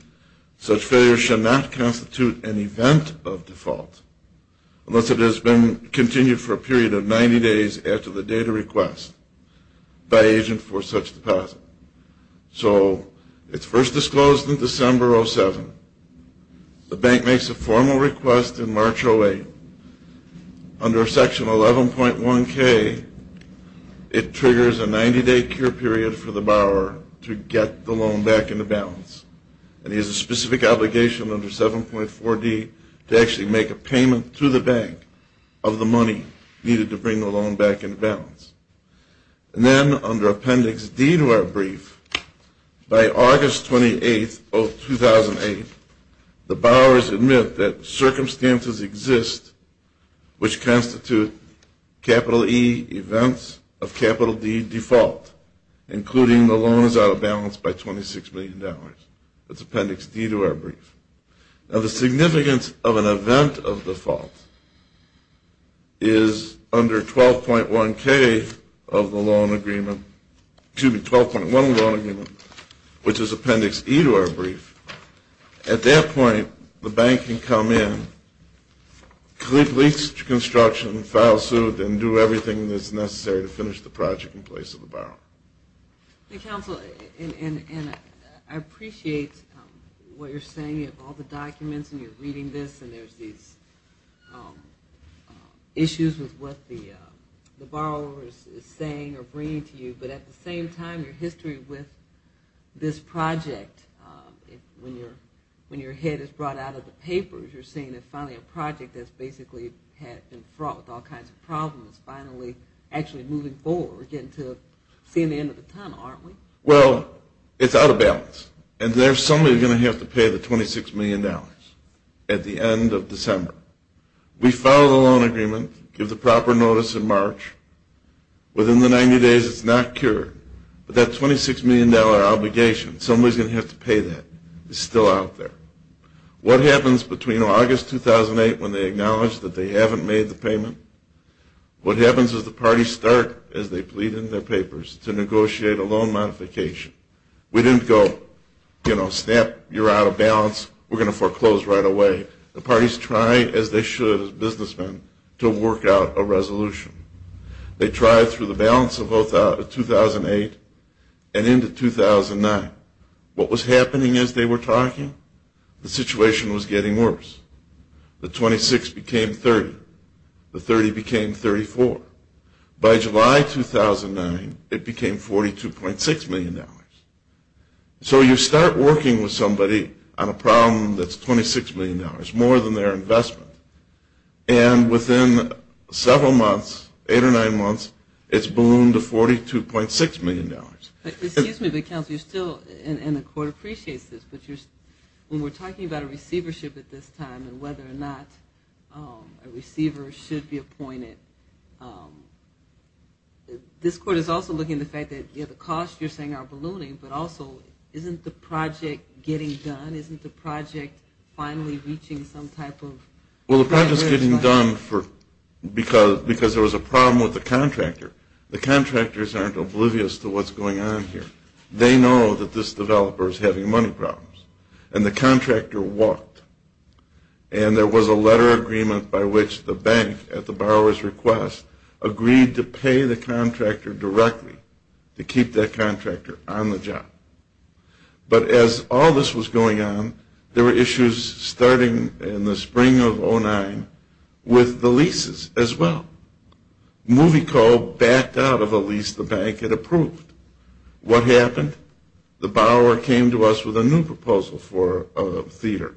such failure should not constitute an event of default unless it has been continued for a period of 90 days after the date of request by agent for such deposit. So it's first disclosed in December 07. The bank makes a formal request in March 08. Under Section 11.1K, it triggers a 90-day cure period for the borrower to get the loan back into balance. And he has a specific obligation under 7.4D to actually make a payment to the bank of the money needed to bring the loan back into balance. And then under Appendix D to our brief, by August 28, 2008, the borrowers admit that circumstances exist which constitute capital E events of capital D default, including the loan is out of balance by $26 million. That's Appendix D to our brief. Now, the significance of an event of default is under 12.1K of the loan agreement, excuse me, 12.1 loan agreement, which is Appendix E to our brief. At that point, the bank can come in, complete lease construction, file suit, and do everything that's necessary to finish the project in place of the borrower. Counsel, I appreciate what you're saying of all the documents and you're reading this and there's these issues with what the borrower is saying or bringing to you. But at the same time, your history with this project, when your head is brought out of the papers, you're saying that finally a project that's basically had been fraught with all kinds of problems is finally actually moving forward, we're getting to seeing the end of the tunnel, aren't we? Well, it's out of balance. And there's somebody who's going to have to pay the $26 million at the end of December. We file the loan agreement, give the proper notice in March. Within the 90 days, it's not cured. But that $26 million obligation, somebody's going to have to pay that. It's still out there. What happens between August 2008 when they acknowledge that they haven't made the payment? What happens is the parties start, as they plead in their papers, to negotiate a loan modification. We didn't go, you know, snap, you're out of balance, we're going to foreclose right away. The parties try, as they should as businessmen, to work out a resolution. They tried through the balance of 2008 and into 2009. What was happening as they were talking? The situation was getting worse. The $26 became $30. The $30 became $34. By July 2009, it became $42.6 million. So you start working with somebody on a problem that's $26 million, more than their investment, and within several months, eight or nine months, it's ballooned to $42.6 million. Excuse me, but, Counselor, you're still, and the court appreciates this, but when we're talking about a receivership at this time and whether or not a receiver should be appointed, this court is also looking at the fact that, you know, the costs you're saying are ballooning, but also isn't the project getting done? Isn't the project finally reaching some type of? Well, the project is getting done because there was a problem with the contractor. The contractors aren't oblivious to what's going on here. They know that this developer is having money problems. And the contractor walked. And there was a letter of agreement by which the bank, at the borrower's request, agreed to pay the contractor directly to keep that contractor on the job. But as all this was going on, there were issues starting in the spring of 2009 with the leases as well. MovieCo backed out of a lease the bank had approved. What happened? The borrower came to us with a new proposal for a theater,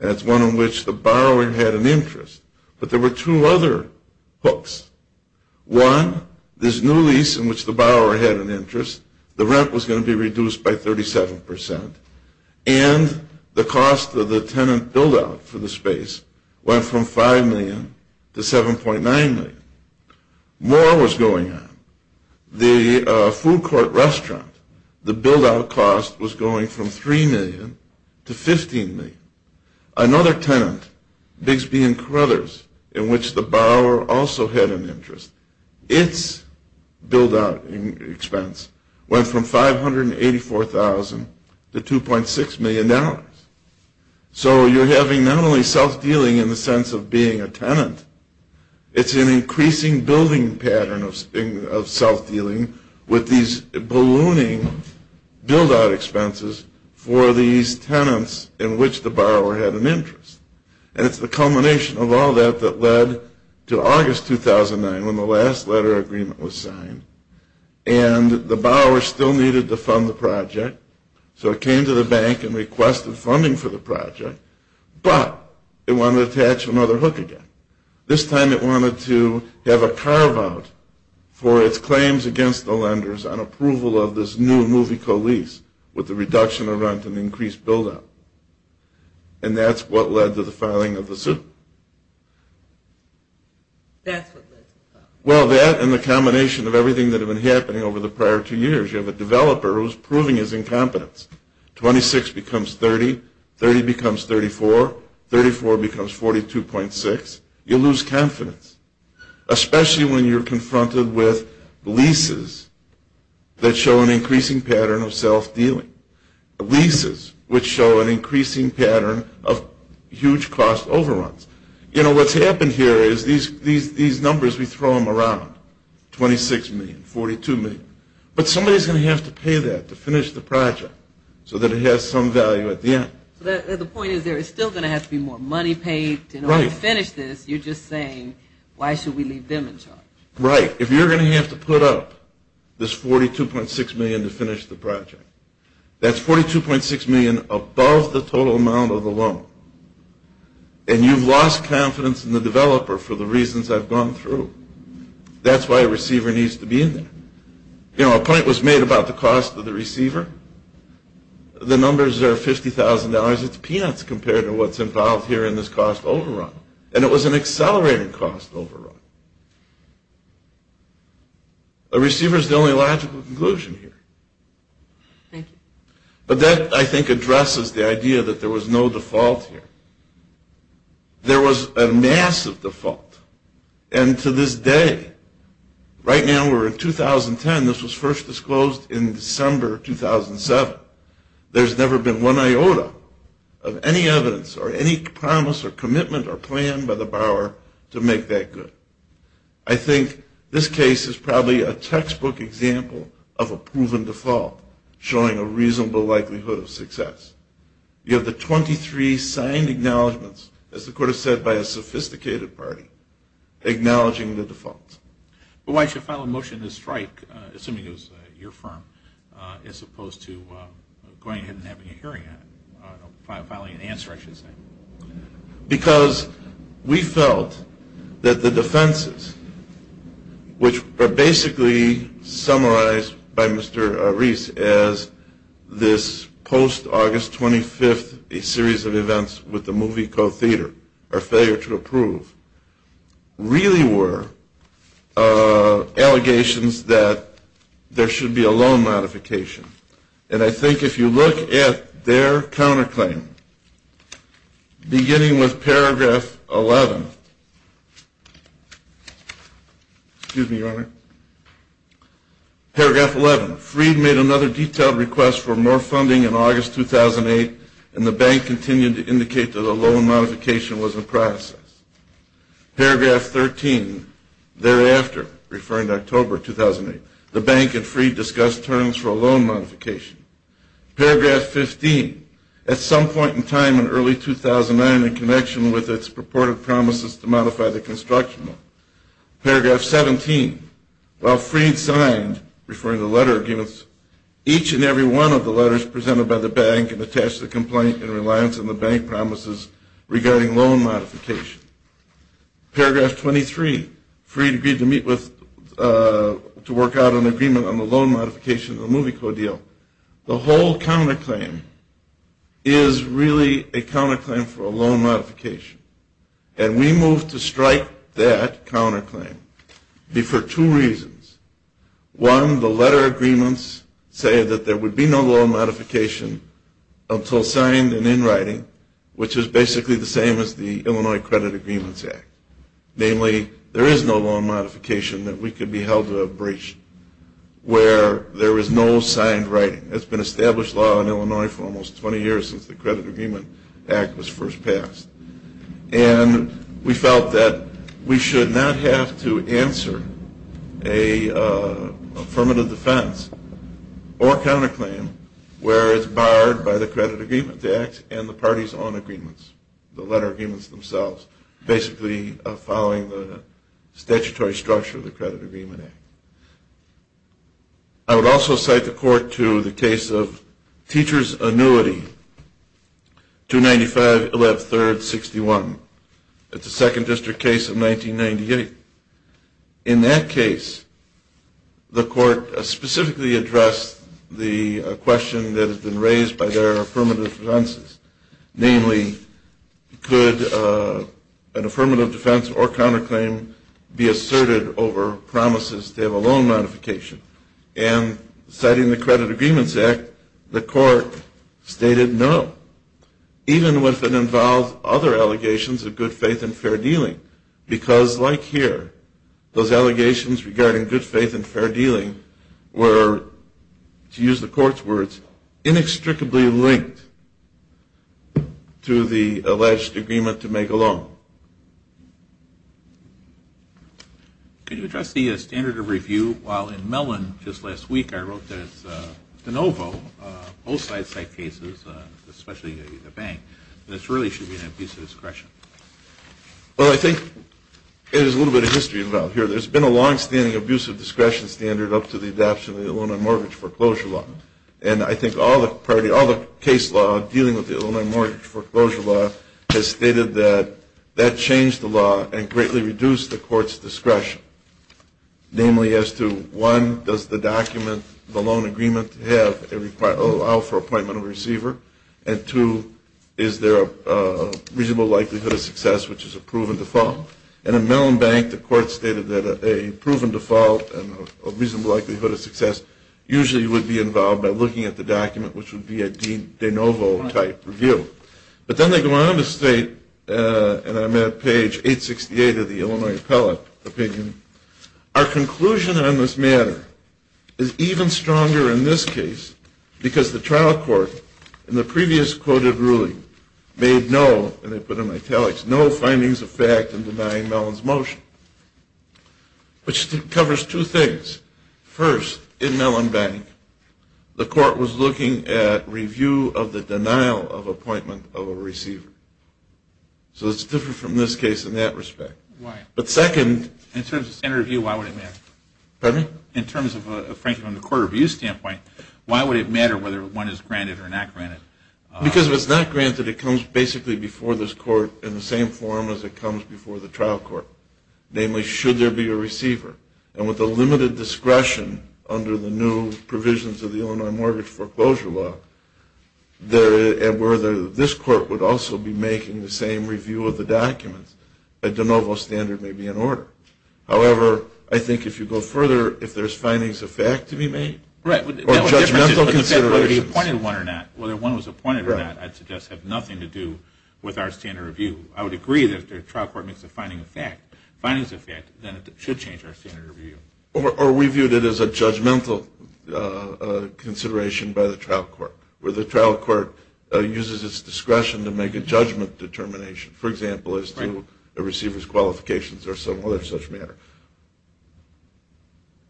and it's one in which the borrower had an interest. But there were two other hooks. One, this new lease in which the borrower had an interest, the rent was going to be reduced by 37%, and the cost of the tenant build-out for the space went from $5 million to $7.9 million. More was going on. The food court restaurant, the build-out cost was going from $3 million to $15 million. Another tenant, Bigsby and Carothers, in which the borrower also had an interest, its build-out expense went from $584,000 to $2.6 million. So you're having not only self-dealing in the sense of being a tenant, it's an increasing building pattern of self-dealing with these ballooning build-out expenses for these tenants in which the borrower had an interest. And it's the culmination of all that that led to August 2009 when the last letter of agreement was signed, and the borrower still needed to fund the project. So it came to the bank and requested funding for the project, but it wanted to attach another hook again. This time it wanted to have a carve-out for its claims against the lenders on approval of this new movie co-lease with the reduction of rent and increased build-out. And that's what led to the filing of the suit. That's what led to the filing. Well, that and the combination of everything that had been happening over the prior two years. You have a developer who's proving his incompetence. Twenty-six becomes 30, 30 becomes 34, 34 becomes 42.6. You lose confidence, especially when you're confronted with leases that show an increasing pattern of self-dealing, leases which show an increasing pattern of huge cost overruns. You know, what's happened here is these numbers, we throw them around, 26 million, 42 million. But somebody's going to have to pay that to finish the project so that it has some value at the end. So the point is there is still going to have to be more money paid to finish this. You're just saying, why should we leave them in charge? Right. If you're going to have to put up this 42.6 million to finish the project, that's 42.6 million above the total amount of the loan. And you've lost confidence in the developer for the reasons I've gone through. That's why a receiver needs to be in there. You know, a point was made about the cost of the receiver. The numbers are $50,000. It's peanuts compared to what's involved here in this cost overrun. And it was an accelerated cost overrun. A receiver is the only logical conclusion here. But that, I think, addresses the idea that there was no default here. There was a massive default. And to this day, right now we're in 2010. This was first disclosed in December 2007. There's never been one iota of any evidence or any promise or commitment or plan by the borrower to make that good. I think this case is probably a textbook example of a proven default, showing a reasonable likelihood of success. You have the 23 signed acknowledgments, as the Court has said, by a sophisticated party, acknowledging the default. Well, why did you file a motion to strike, assuming it was your firm, as opposed to going ahead and having a hearing on it? Filing an answer, I should say. Because we felt that the defenses, which are basically summarized by Mr. Reese as this post-August 25th, a series of events with the movie co-theater, or failure to approve, really were allegations that there should be a loan modification. And I think if you look at their counterclaim, beginning with paragraph 11, excuse me, Your Honor, paragraph 11, Freed made another detailed request for more funding in August 2008, and the bank continued to indicate that a loan modification was in process. Paragraph 13, thereafter, referring to October 2008, the bank and Freed discussed terms for a loan modification. Paragraph 15, at some point in time in early 2009, with its purported promises to modify the construction loan. Paragraph 17, while Freed signed, referring to letter agreements, each and every one of the letters presented by the bank and attached to the complaint in reliance on the bank promises regarding loan modification. Paragraph 23, Freed agreed to meet with, to work out an agreement on the loan modification of the movie co-deal. The whole counterclaim is really a counterclaim for a loan modification. And we moved to strike that counterclaim for two reasons. One, the letter agreements say that there would be no loan modification until signed and in writing, which is basically the same as the Illinois Credit Agreements Act. Namely, there is no loan modification that we could be held to a breach where there is no signed writing. It's been established law in Illinois for almost 20 years since the Credit Agreement Act was first passed. And we felt that we should not have to answer a affirmative defense or counterclaim where it's barred by the Credit Agreement Act and the party's own agreements, the letter agreements themselves, basically following the statutory structure of the Credit Agreement Act. I would also cite the court to the case of teacher's annuity, 295-113-61. It's a second district case of 1998. In that case, the court specifically addressed the question that has been raised by their affirmative defenses, namely, could an affirmative defense or counterclaim be asserted over promises to have a loan modification? And citing the Credit Agreements Act, the court stated no, even if it involved other allegations of good faith and fair dealing. Because like here, those allegations regarding good faith and fair dealing were, to use the court's words, inextricably linked to the alleged agreement to make a loan. Could you address the standard of review? While in Mellon just last week I wrote that it's de novo, both side-side cases, especially the bank, that it really should be an abuse of discretion. Well, I think there's a little bit of history involved here. There's been a longstanding abuse of discretion standard up to the adoption of the Loan and Mortgage Foreclosure Law. And I think all the case law dealing with the Loan and Mortgage Foreclosure Law has stated that that changed the law and greatly reduced the court's discretion, namely as to, one, does the document, the loan agreement, allow for appointment of a receiver? And two, is there a reasonable likelihood of success, which is a proven default? And in Mellon Bank the court stated that a proven default and a reasonable likelihood of success usually would be involved by looking at the document, which would be a de novo type review. But then they go on to state, and I'm at page 868 of the Illinois Appellate opinion, our conclusion on this matter is even stronger in this case because the trial court in the previous quoted ruling made no, and they put it in italics, no findings of fact in denying Mellon's motion, which covers two things. First, in Mellon Bank the court was looking at review of the denial of appointment of a receiver. So it's different from this case in that respect. But second... In terms of standard review, why would it matter? Pardon me? In terms of, frankly, from the court review standpoint, why would it matter whether one is granted or not granted? Because if it's not granted, it comes basically before this court in the same form as it comes before the trial court. Namely, should there be a receiver? And with the limited discretion under the new provisions of the Illinois Mortgage Foreclosure Law, this court would also be making the same review of the documents. A de novo standard may be in order. However, I think if you go further, if there's findings of fact to be made, or judgmental considerations... Whether he appointed one or not, whether one was appointed or not, I'd suggest have nothing to do with our standard review. I would agree that if the trial court makes a findings of fact, then it should change our standard review. Or we viewed it as a judgmental consideration by the trial court, where the trial court uses its discretion to make a judgment determination, for example, as to a receiver's qualifications or some other such matter.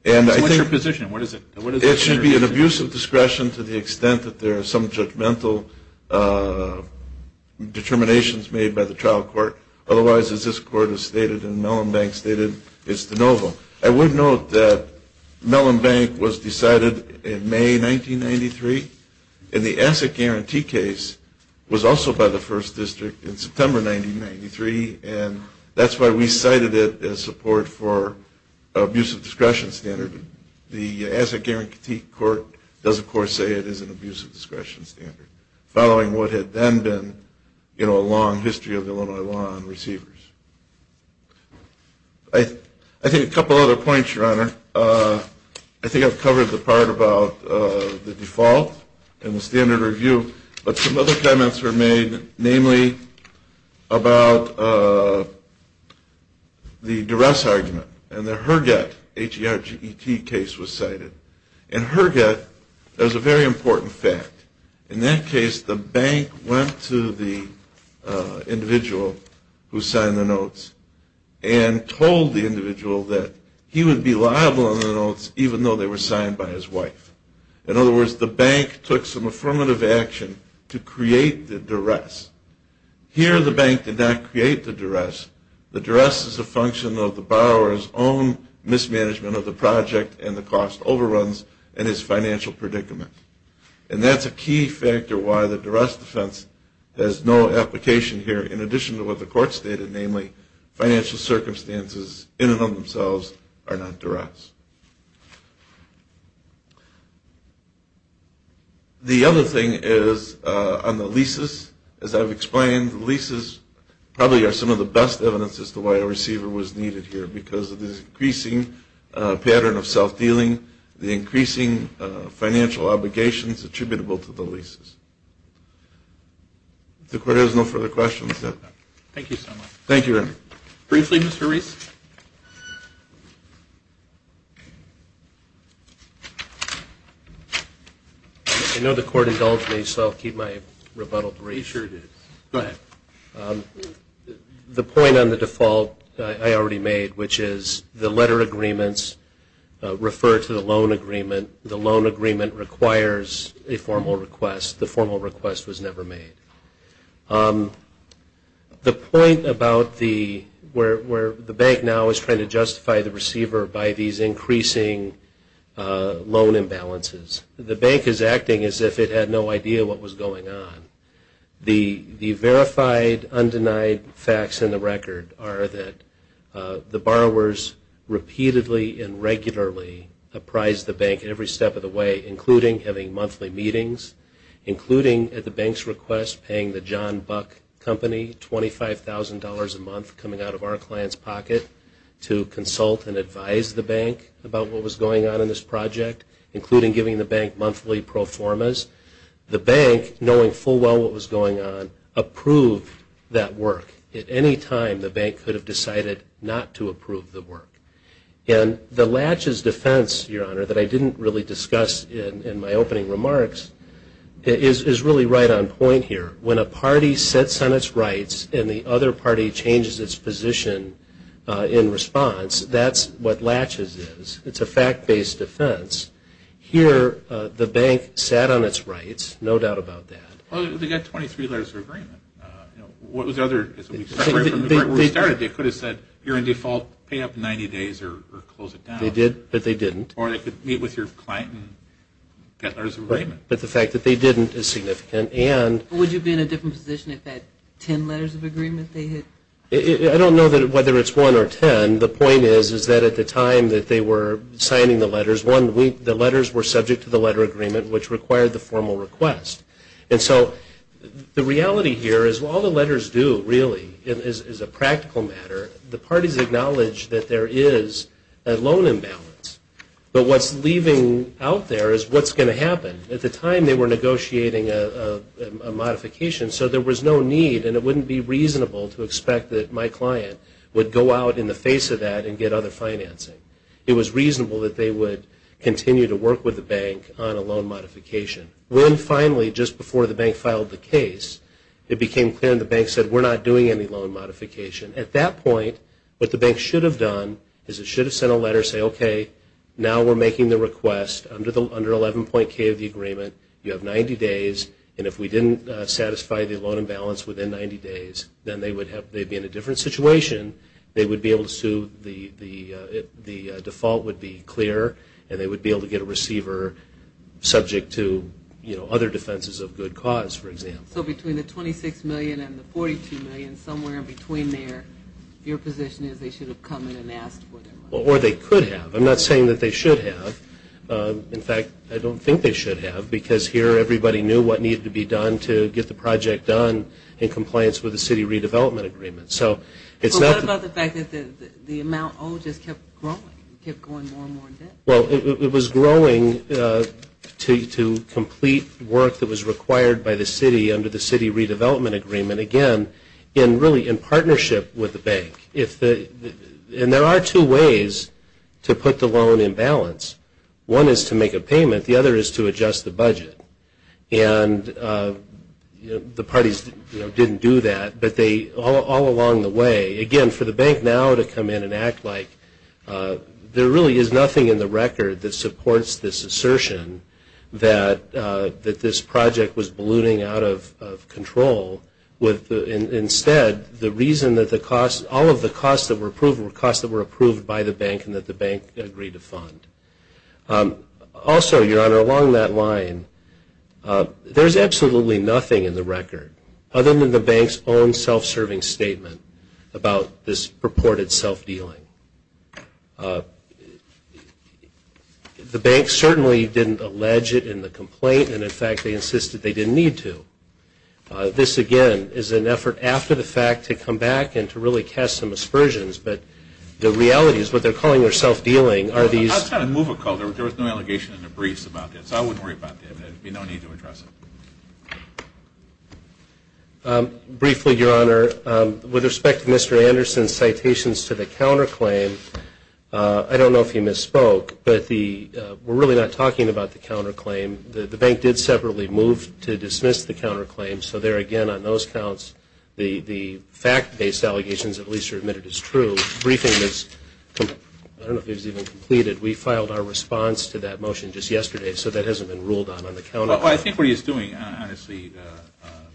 So what's your position? It should be an abuse of discretion to the extent that there are some judgmental determinations made by the trial court. Otherwise, as this court has stated and Mellon Bank stated, it's de novo. I would note that Mellon Bank was decided in May 1993, and the asset guarantee case was also by the First District in September 1993, and that's why we cited it as support for abuse of discretion standard. The asset guarantee court does, of course, say it is an abuse of discretion standard, following what had then been a long history of Illinois law on receivers. I think a couple other points, Your Honor. I think I've covered the part about the default and the standard review, but some other comments were made, namely about the duress argument and the Herget case was cited. In Herget, there's a very important fact. In that case, the bank went to the individual who signed the notes and told the individual that he would be liable on the notes, even though they were signed by his wife. In other words, the bank took some affirmative action to create the duress. Here, the bank did not create the duress. The duress is a function of the borrower's own mismanagement of the project and the cost overruns and his financial predicament, and that's a key factor why the duress defense has no application here, in addition to what the court stated, namely financial circumstances in and of themselves are not duress. The other thing is on the leases. As I've explained, leases probably are some of the best evidence as to why a receiver was needed here because of this increasing pattern of self-dealing, the increasing financial obligations attributable to the leases. If the court has no further questions. Thank you so much. Thank you, Your Honor. Briefly, Mr. Reese. I know the court indulged me, so I'll keep my rebuttal brief. Go ahead. The point on the default I already made, which is the letter agreements refer to the loan agreement. The loan agreement requires a formal request. The formal request was never made. The point about where the bank now is trying to justify the receiver by these increasing loan imbalances, the bank is acting as if it had no idea what was going on. The verified, undenied facts in the record are that the borrowers repeatedly and regularly apprise the bank every step of the way, including having monthly meetings, including at the bank's request paying the John Buck Company $25,000 a month coming out of our client's pocket to consult and advise the bank about what was going on in this project, including giving the bank monthly pro formas. The bank, knowing full well what was going on, approved that work. At any time, the bank could have decided not to approve the work. The Latches defense, Your Honor, that I didn't really discuss in my opening remarks, is really right on point here. When a party sets on its rights and the other party changes its position in response, that's what Latches is. It's a fact-based defense. Here, the bank sat on its rights, no doubt about that. They got 23 letters of agreement. They could have said, you're in default, pay up in 90 days or close it down. They did, but they didn't. Or they could meet with your client and get letters of agreement. But the fact that they didn't is significant. Would you be in a different position if they had 10 letters of agreement? I don't know whether it's 1 or 10. The point is that at the time that they were signing the letters, the letters were subject to the letter agreement, which required the formal request. And so the reality here is all the letters do, really, is a practical matter. The parties acknowledge that there is a loan imbalance. But what's leaving out there is what's going to happen. At the time, they were negotiating a modification, so there was no need and it wouldn't be reasonable to expect that my client would go out in the face of that and get other financing. It was reasonable that they would continue to work with the bank on a loan modification. When finally, just before the bank filed the case, it became clear and the bank said, we're not doing any loan modification. At that point, what the bank should have done is it should have sent a letter saying, okay, now we're making the request. Under 11.k of the agreement, you have 90 days, and if we didn't satisfy the loan imbalance within 90 days, then they would be in a different situation. They would be able to sue, the default would be clear, and they would be able to get a receiver subject to other defenses of good cause, for example. So between the $26 million and the $42 million, somewhere in between there, your position is they should have come in and asked for their money. Or they could have. I'm not saying that they should have. In fact, I don't think they should have because here everybody knew what needed to be done to get the project done in compliance with the city redevelopment agreement. What about the fact that the amount owed just kept growing, kept going more and more? Well, it was growing to complete work that was required by the city under the city redevelopment agreement, again, really in partnership with the bank. And there are two ways to put the loan in balance. One is to make a payment. The other is to adjust the budget. And the parties didn't do that, but all along the way, again, for the bank now to come in and act like there really is nothing in the record that supports this assertion that this project was ballooning out of control. Instead, all of the costs that were approved were costs that were approved by the bank and that the bank agreed to fund. Also, Your Honor, along that line, there's absolutely nothing in the record other than the bank's own self-serving statement about this purported self-dealing. The bank certainly didn't allege it in the complaint, and in fact they insisted they didn't need to. This, again, is an effort after the fact to come back and to really cast some aspersions, but the reality is what they're calling their self-dealing are these I'm not trying to move a call. There was no allegation in the briefs about this. I wouldn't worry about that. There would be no need to address it. Briefly, Your Honor, with respect to Mr. Anderson's citations to the counterclaim, I don't know if he misspoke, but we're really not talking about the counterclaim. The bank did separately move to dismiss the counterclaim, so there again on those counts, the fact-based allegations at least are admitted as true. I don't know if he's even completed. We filed our response to that motion just yesterday, so that hasn't been ruled on on the counter. Well, I think what he's doing, honestly,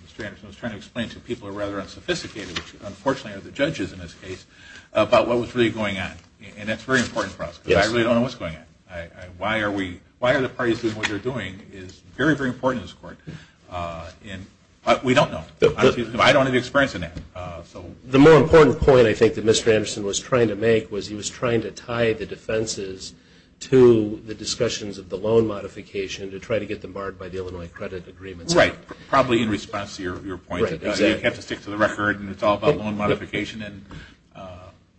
Mr. Anderson, I was trying to explain to people who are rather unsophisticated, which unfortunately are the judges in this case, about what was really going on, and that's very important for us because I really don't know what's going on. Why are the parties doing what they're doing is very, very important in this court, but we don't know. I don't have any experience in that. The more important point I think that Mr. Anderson was trying to make was he was trying to tie the defenses to the discussions of the loan modification to try to get them barred by the Illinois credit agreements. Right. Probably in response to your point about you have to stick to the record and it's all about loan modification.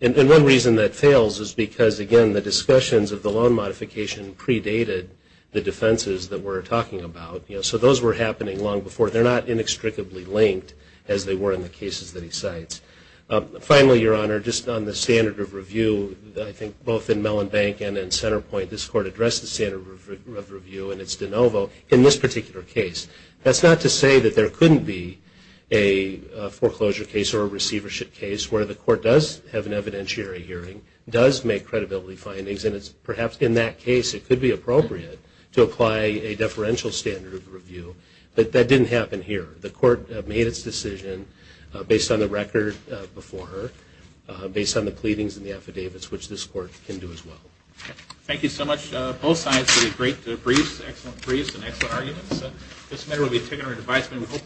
And one reason that fails is because, again, the discussions of the loan modification predated the defenses that we're talking about. So those were happening long before. They're not inextricably linked as they were in the cases that he cites. Finally, Your Honor, just on the standard of review, I think both in Mellon Bank and in Centerpoint this court addressed the standard of review and it's de novo in this particular case. That's not to say that there couldn't be a foreclosure case or a receivership case where the court does have an evidentiary hearing, does make credibility findings, and it's perhaps in that case it could be appropriate to apply a deferential standard of review. But that didn't happen here. The court made its decision based on the record before her, based on the pleadings and the affidavits, which this court can do as well. Thank you so much. Both sides did a great brief, excellent briefs and excellent arguments. This matter will be taken under advisement.